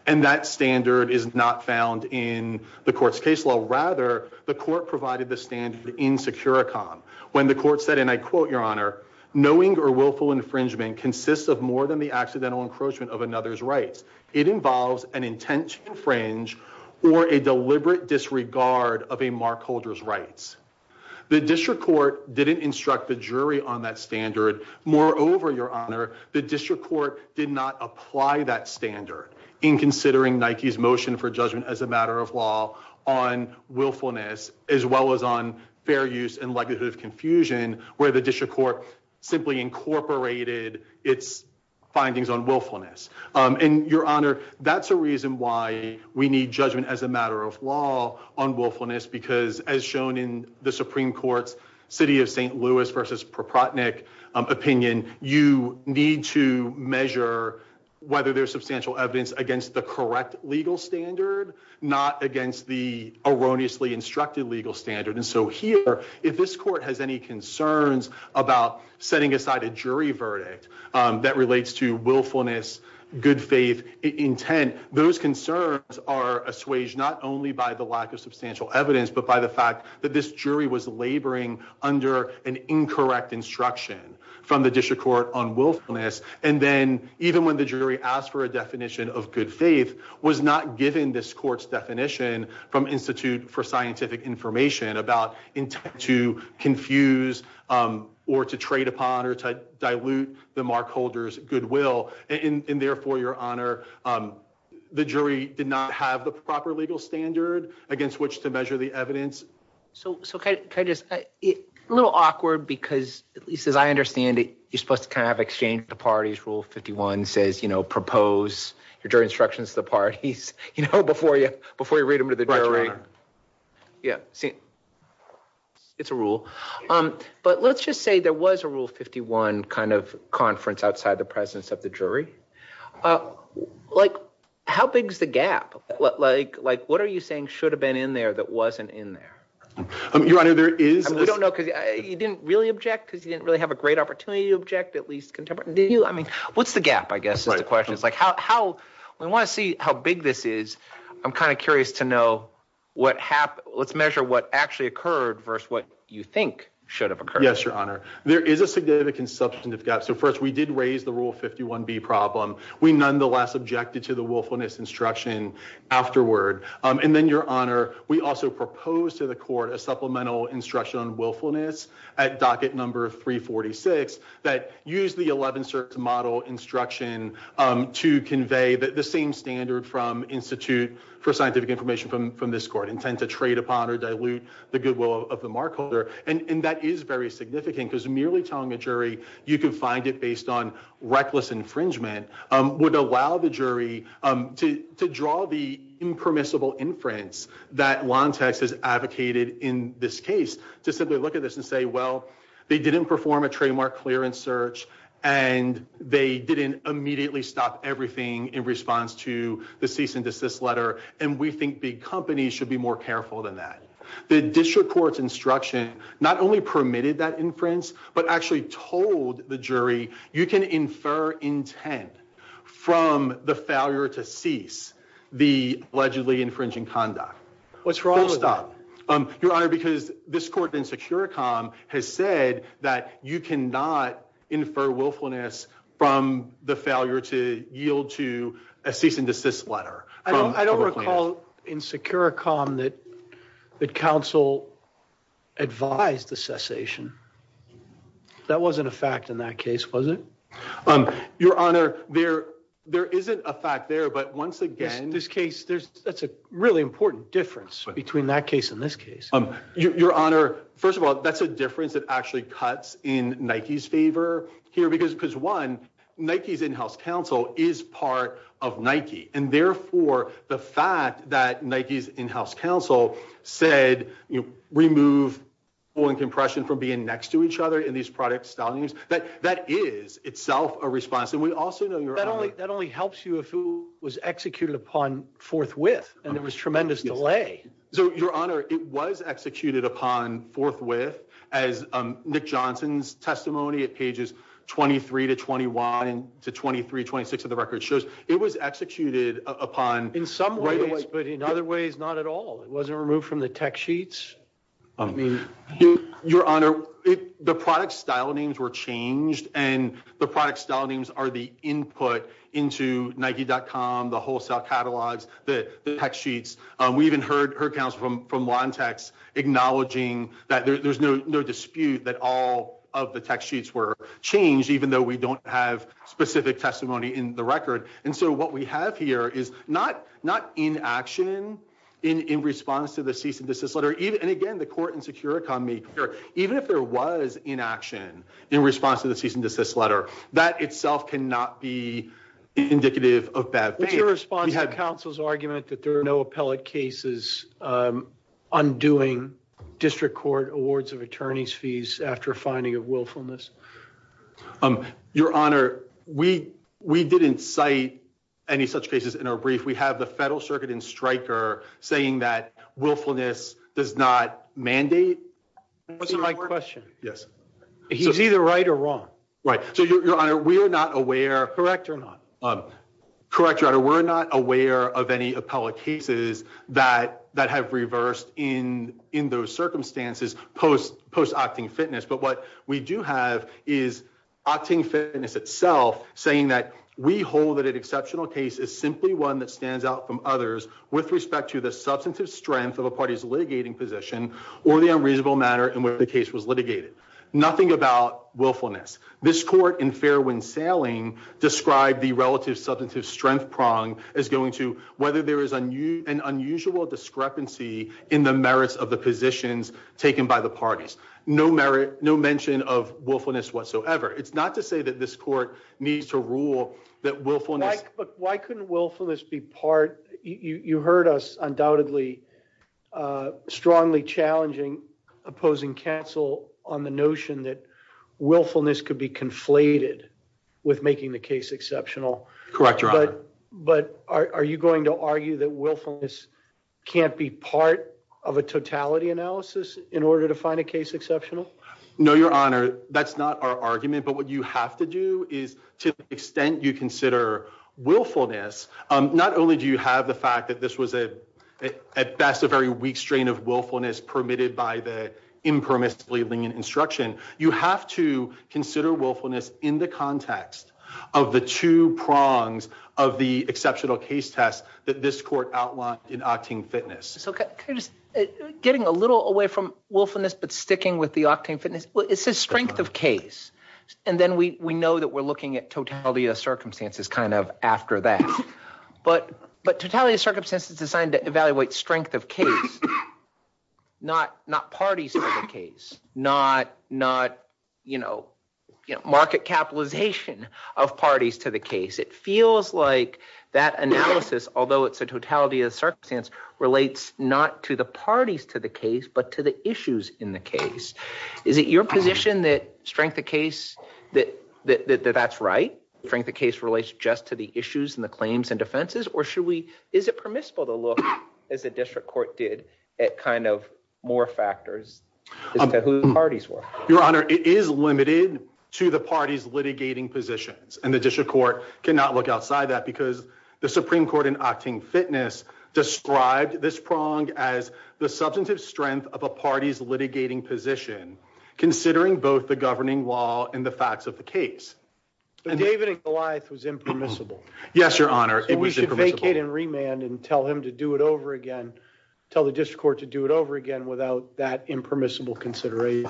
And that standard is not found in the court's case law. Rather, the court provided the standard in Securecom. When the court said, and I quote, Your Honor, knowing or willful infringement consists of more than the accidental encroachment of another's rights. It involves an intent to infringe or a deliberate disregard of a mark holder's rights. The district court didn't instruct the jury on that standard. Moreover, Your Honor, the district court did not apply that standard in considering Nike's motion for judgment as a matter of law on willfulness, as well as on fair use and likelihood of confusion, where the district court simply incorporated its findings on willfulness. And, Your Honor, that's a reason why we need judgment as a matter of law on willfulness, because as shown in the Supreme Court's City of St. Louis v. Proprotnick opinion, you need to measure whether there's substantial evidence against the correct legal standard, not against the erroneously instructed legal standard. And so here, if this court has any concerns about setting aside a jury verdict that relates to willfulness, good faith intent, those concerns are assuaged not only by the lack of substantial evidence, but by the fact that this jury was laboring under an incorrect instruction from the district court on willfulness. And then even when the jury asked for a definition of good faith, was not given this court's definition from Institute for Scientific Information about intent to confuse or to trade upon or to dilute the mark holder's goodwill. And therefore, Your Honor, the jury did not have the proper legal standard against which to measure the evidence. So it's a little awkward because at least as I understand it, you're supposed to kind of exchange the parties. Rule 51 says, you know, propose your jury instructions to the parties, you know, before you before you read them to the jury. Yeah. It's a rule. But let's just say there was a rule 51 kind of conference outside the presence of the jury. Like how big is the gap? Like what are you saying should have been in there that wasn't in there? Your Honor, there is. We don't know because you didn't really object because you didn't really have a great opportunity to object, at least contemporary. I mean, what's the gap? I guess my question is like how we want to see how big this is. I'm kind of curious to know what happened. Let's measure what actually occurred versus what you think should have occurred. Yes, Your Honor. There is a significant substantive gap. So first, we did raise the rule 51B problem. We nonetheless objected to the willfulness instruction afterward. And then, Your Honor, we also proposed to the court a supplemental instruction on willfulness at docket number 346 that used the 11-cert model instruction to convey the same standard from Institute for Scientific Information from this court, intent to trade upon or dilute the goodwill of the mark holder. And that is very significant because merely telling the jury you can find it based on reckless infringement would allow the jury to draw the impermissible inference that Lantex has advocated in this case to simply look at this and say, well, they didn't perform a trademark clearance search, and they didn't immediately stop everything in response to the cease and desist letter, and we think the company should be more careful than that. The district court's instruction not only permitted that inference but actually told the jury you can infer intent from the failure to cease the allegedly infringing conduct. What's wrong with that? First off, Your Honor, because this court in Securicom has said that you cannot infer willfulness from the failure to yield to a cease and desist letter. I don't recall in Securicom that counsel advised the cessation. That wasn't a fact in that case, was it? Your Honor, there isn't a fact there, but once again, that's a really important difference between that case and this case. Your Honor, first of all, that's a difference that actually cuts in Nike's favor here because, one, Nike's in-house counsel is part of Nike, and, therefore, the fact that Nike's in-house counsel said remove pulling compression from being next to each other in these product sellings, that is itself a response. That only helps you if it was executed upon forthwith, and there was tremendous delay. Your Honor, it was executed upon forthwith. As Nick Johnson's testimony at pages 23 to 21 to 23, 26 of the record shows, it was executed upon. In some ways, but in other ways, not at all. It wasn't removed from the tech sheets? Your Honor, the product style names were changed, and the product style names are the input into Nike.com, the wholesale catalogs, the tech sheets. We even heard counsel from Lantex acknowledging that there's no dispute that all of the tech sheets were changed, even though we don't have specific testimony in the record. And so what we have here is not inaction in response to the cease and desist letter. And, again, the court in Securicom made clear, even if there was inaction in response to the cease and desist letter, that itself cannot be indicative of bad faith. Did you respond to the counsel's argument that there are no appellate cases undoing district court awards of attorney's fees after finding of willfulness? Your Honor, we didn't cite any such cases in our brief. We have the federal circuit in Stryker saying that willfulness does not mandate. What's my question? He's either right or wrong. Your Honor, we are not aware. Correct or not? Correct, Your Honor, we're not aware of any appellate cases that have reversed in those circumstances post-opting fitness. But what we do have is opting fitness itself saying that we hold that an exceptional case is simply one that stands out from others with respect to the substantive strength of a party's litigating position or the unreasonable matter in which the case was litigated. Nothing about willfulness. This court in Fairwind-Salem described the relative substantive strength prong as going to whether there is an unusual discrepancy in the merits of the positions taken by the parties. No mention of willfulness whatsoever. It's not to say that this court needs to rule that willfulness Why couldn't willfulness be part? You heard us undoubtedly strongly challenging opposing counsel on the notion that willfulness could be conflated with making the case exceptional. Correct, Your Honor. But are you going to argue that willfulness can't be part of a totality analysis in order to find a case exceptional? No, Your Honor, that's not our argument. But what you have to do is to the extent you consider willfulness, not only do you have the fact that this was at best a very weak strain of willfulness permitted by the impermissibly lenient instruction, you have to consider willfulness in the context of the two prongs of the exceptional case test that this court outlined in opting fitness. Getting a little away from willfulness but sticking with the opting fitness, it's a strength of case. And then we know that we're looking at totality of circumstances kind of after that. But totality of circumstances is designed to evaluate strength of case, not parties to the case, not market capitalization of parties to the case. It feels like that analysis, although it's a totality of circumstance, relates not to the parties to the case, but to the issues in the case. Is it your position that strength of case, that that's right? Strength of case relates just to the issues and the claims and defenses? Or should we, is it permissible to look, as the district court did, at kind of more factors as to who the parties were? Your Honor, it is limited to the parties litigating positions. And the district court cannot look outside that because the Supreme Court in opting fitness described this prong as the substantive strength of a party's litigating position, considering both the governing law and the facts of the case. But David and Goliath was impermissible. Yes, Your Honor. And we should make it in remand and tell him to do it over again, tell the district court to do it over again without that impermissible consideration.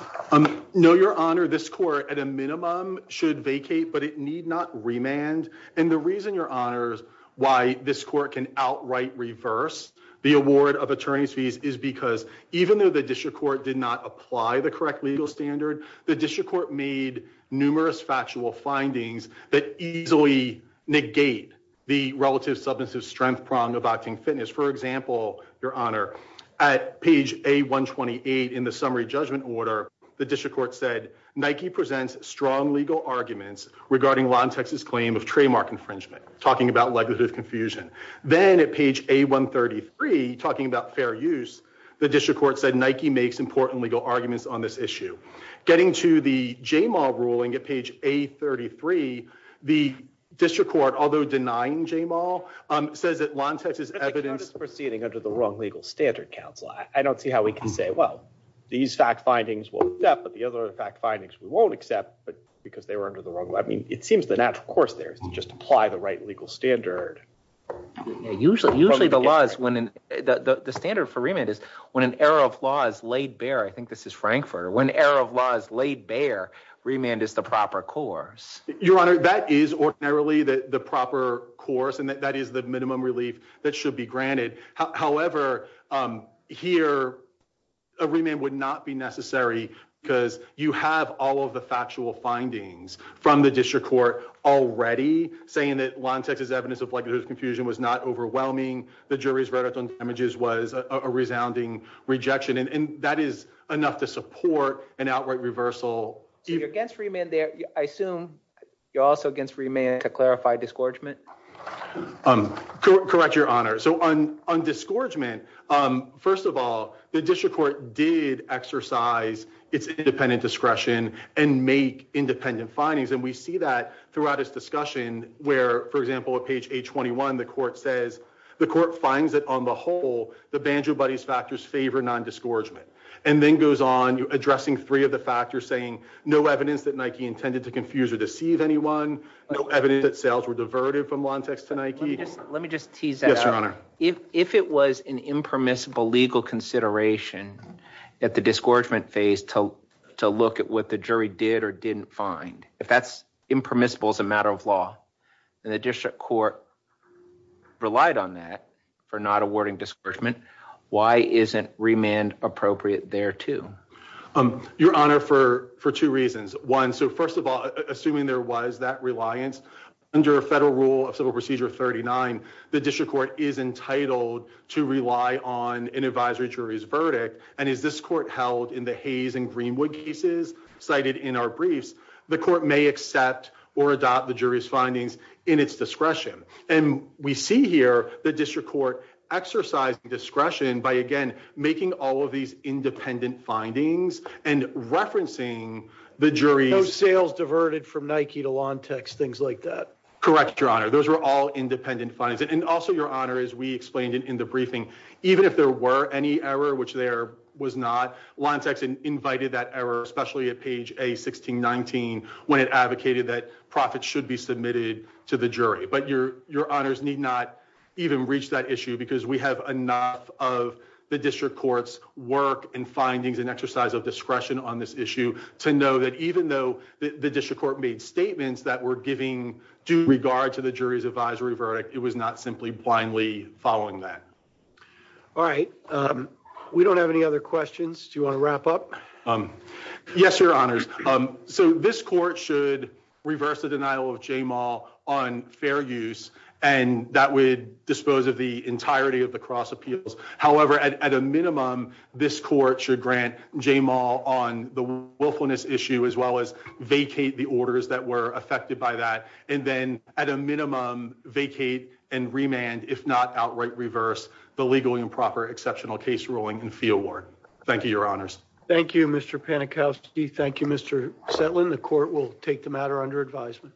No, Your Honor. This court, at a minimum, should vacate, but it need not remand. And the reason, Your Honor, why this court can outright reverse the award of attorney's fees is because even though the district court did not apply the correct legal standard, the district court made numerous factual findings that easily negate the relative substantive strength prong of opting fitness. For example, Your Honor, at page A-128 in the summary judgment order, the district court said, Nike presents strong legal arguments regarding LonTex's claim of trademark infringement, talking about legislative confusion. Then at page A-133, talking about fair use, the district court said Nike makes important legal arguments on this issue. Getting to the Jamal ruling at page A-33, the district court, although denying Jamal, said that LonTex is evidently proceeding under the wrong legal standard, counsel. I don't see how we can say, well, these fact findings will accept, but the other fact findings we won't accept because they were under the wrong. I mean, it seems the natural course there is to just apply the right legal standard. Usually, the standard for remand is when an error of law is laid bare. I think this is Frankfurter. When error of law is laid bare, remand is the proper course. Your Honor, that is ordinarily the proper course, and that is the minimum relief that should be granted. However, here, a remand would not be necessary because you have all of the factual findings from the district court already saying that LonTex's evidence of legislative confusion was not overwhelming. The jury's verdict on damages was a resounding rejection, and that is enough to support an outright reversal. You're against remand there. I assume you're also against remand to clarify discouragement. Correct, Your Honor. On discouragement, first of all, the district court did exercise its independent discretion and make independent findings, and we see that throughout this discussion where, for example, at page 821, the court says, the court finds that, on the whole, the Banjo-Buddy factors favor non-discouragement, and then goes on addressing three of the factors saying no evidence that Nike intended to confuse or deceive anyone, no evidence that sales were diverted from LonTex to Nike. Let me just tease that out. Yes, Your Honor. If it was an impermissible legal consideration at the discouragement phase to look at what the jury did or didn't find, if that's impermissible as a matter of law and the district court relied on that for not awarding discouragement, why isn't remand appropriate there, too? Your Honor, for two reasons. One, so first of all, assuming there was that reliance, under Federal Rule of Civil Procedure 39, the district court is entitled to rely on an advisory jury's verdict, and as this court held in the Hayes and Greenwood cases cited in our briefs, the court may accept or adopt the jury's findings in its discretion, and we see here the district court exercising discretion by, again, making all of these independent findings and referencing the jury's – Correct, Your Honor. Those were all independent findings, and also, Your Honor, as we explained in the briefing, even if there were any error, which there was not, LonTex invited that error, especially at page A1619 when it advocated that profits should be submitted to the jury, but Your Honors need not even reach that issue because we have enough of the district court's work and findings and exercise of discretion on this issue to know that even though the district court made statements that were giving due regard to the jury's advisory verdict, it was not simply blindly following that. All right. We don't have any other questions. Do you want to wrap up? Yes, Your Honors. So this court should reverse the denial of JMAL on fair use, and that would dispose of the entirety of the cross appeals. However, at a minimum, this court should grant JMAL on the willfulness issue as well as vacate the orders that were affected by that, and then at a minimum, vacate and remand, if not outright reverse, the legally improper exceptional case ruling and fee award. Thank you, Your Honors. Thank you, Mr. Panikowski. Thank you, Mr. Setlin. The court will take the matter under advisement.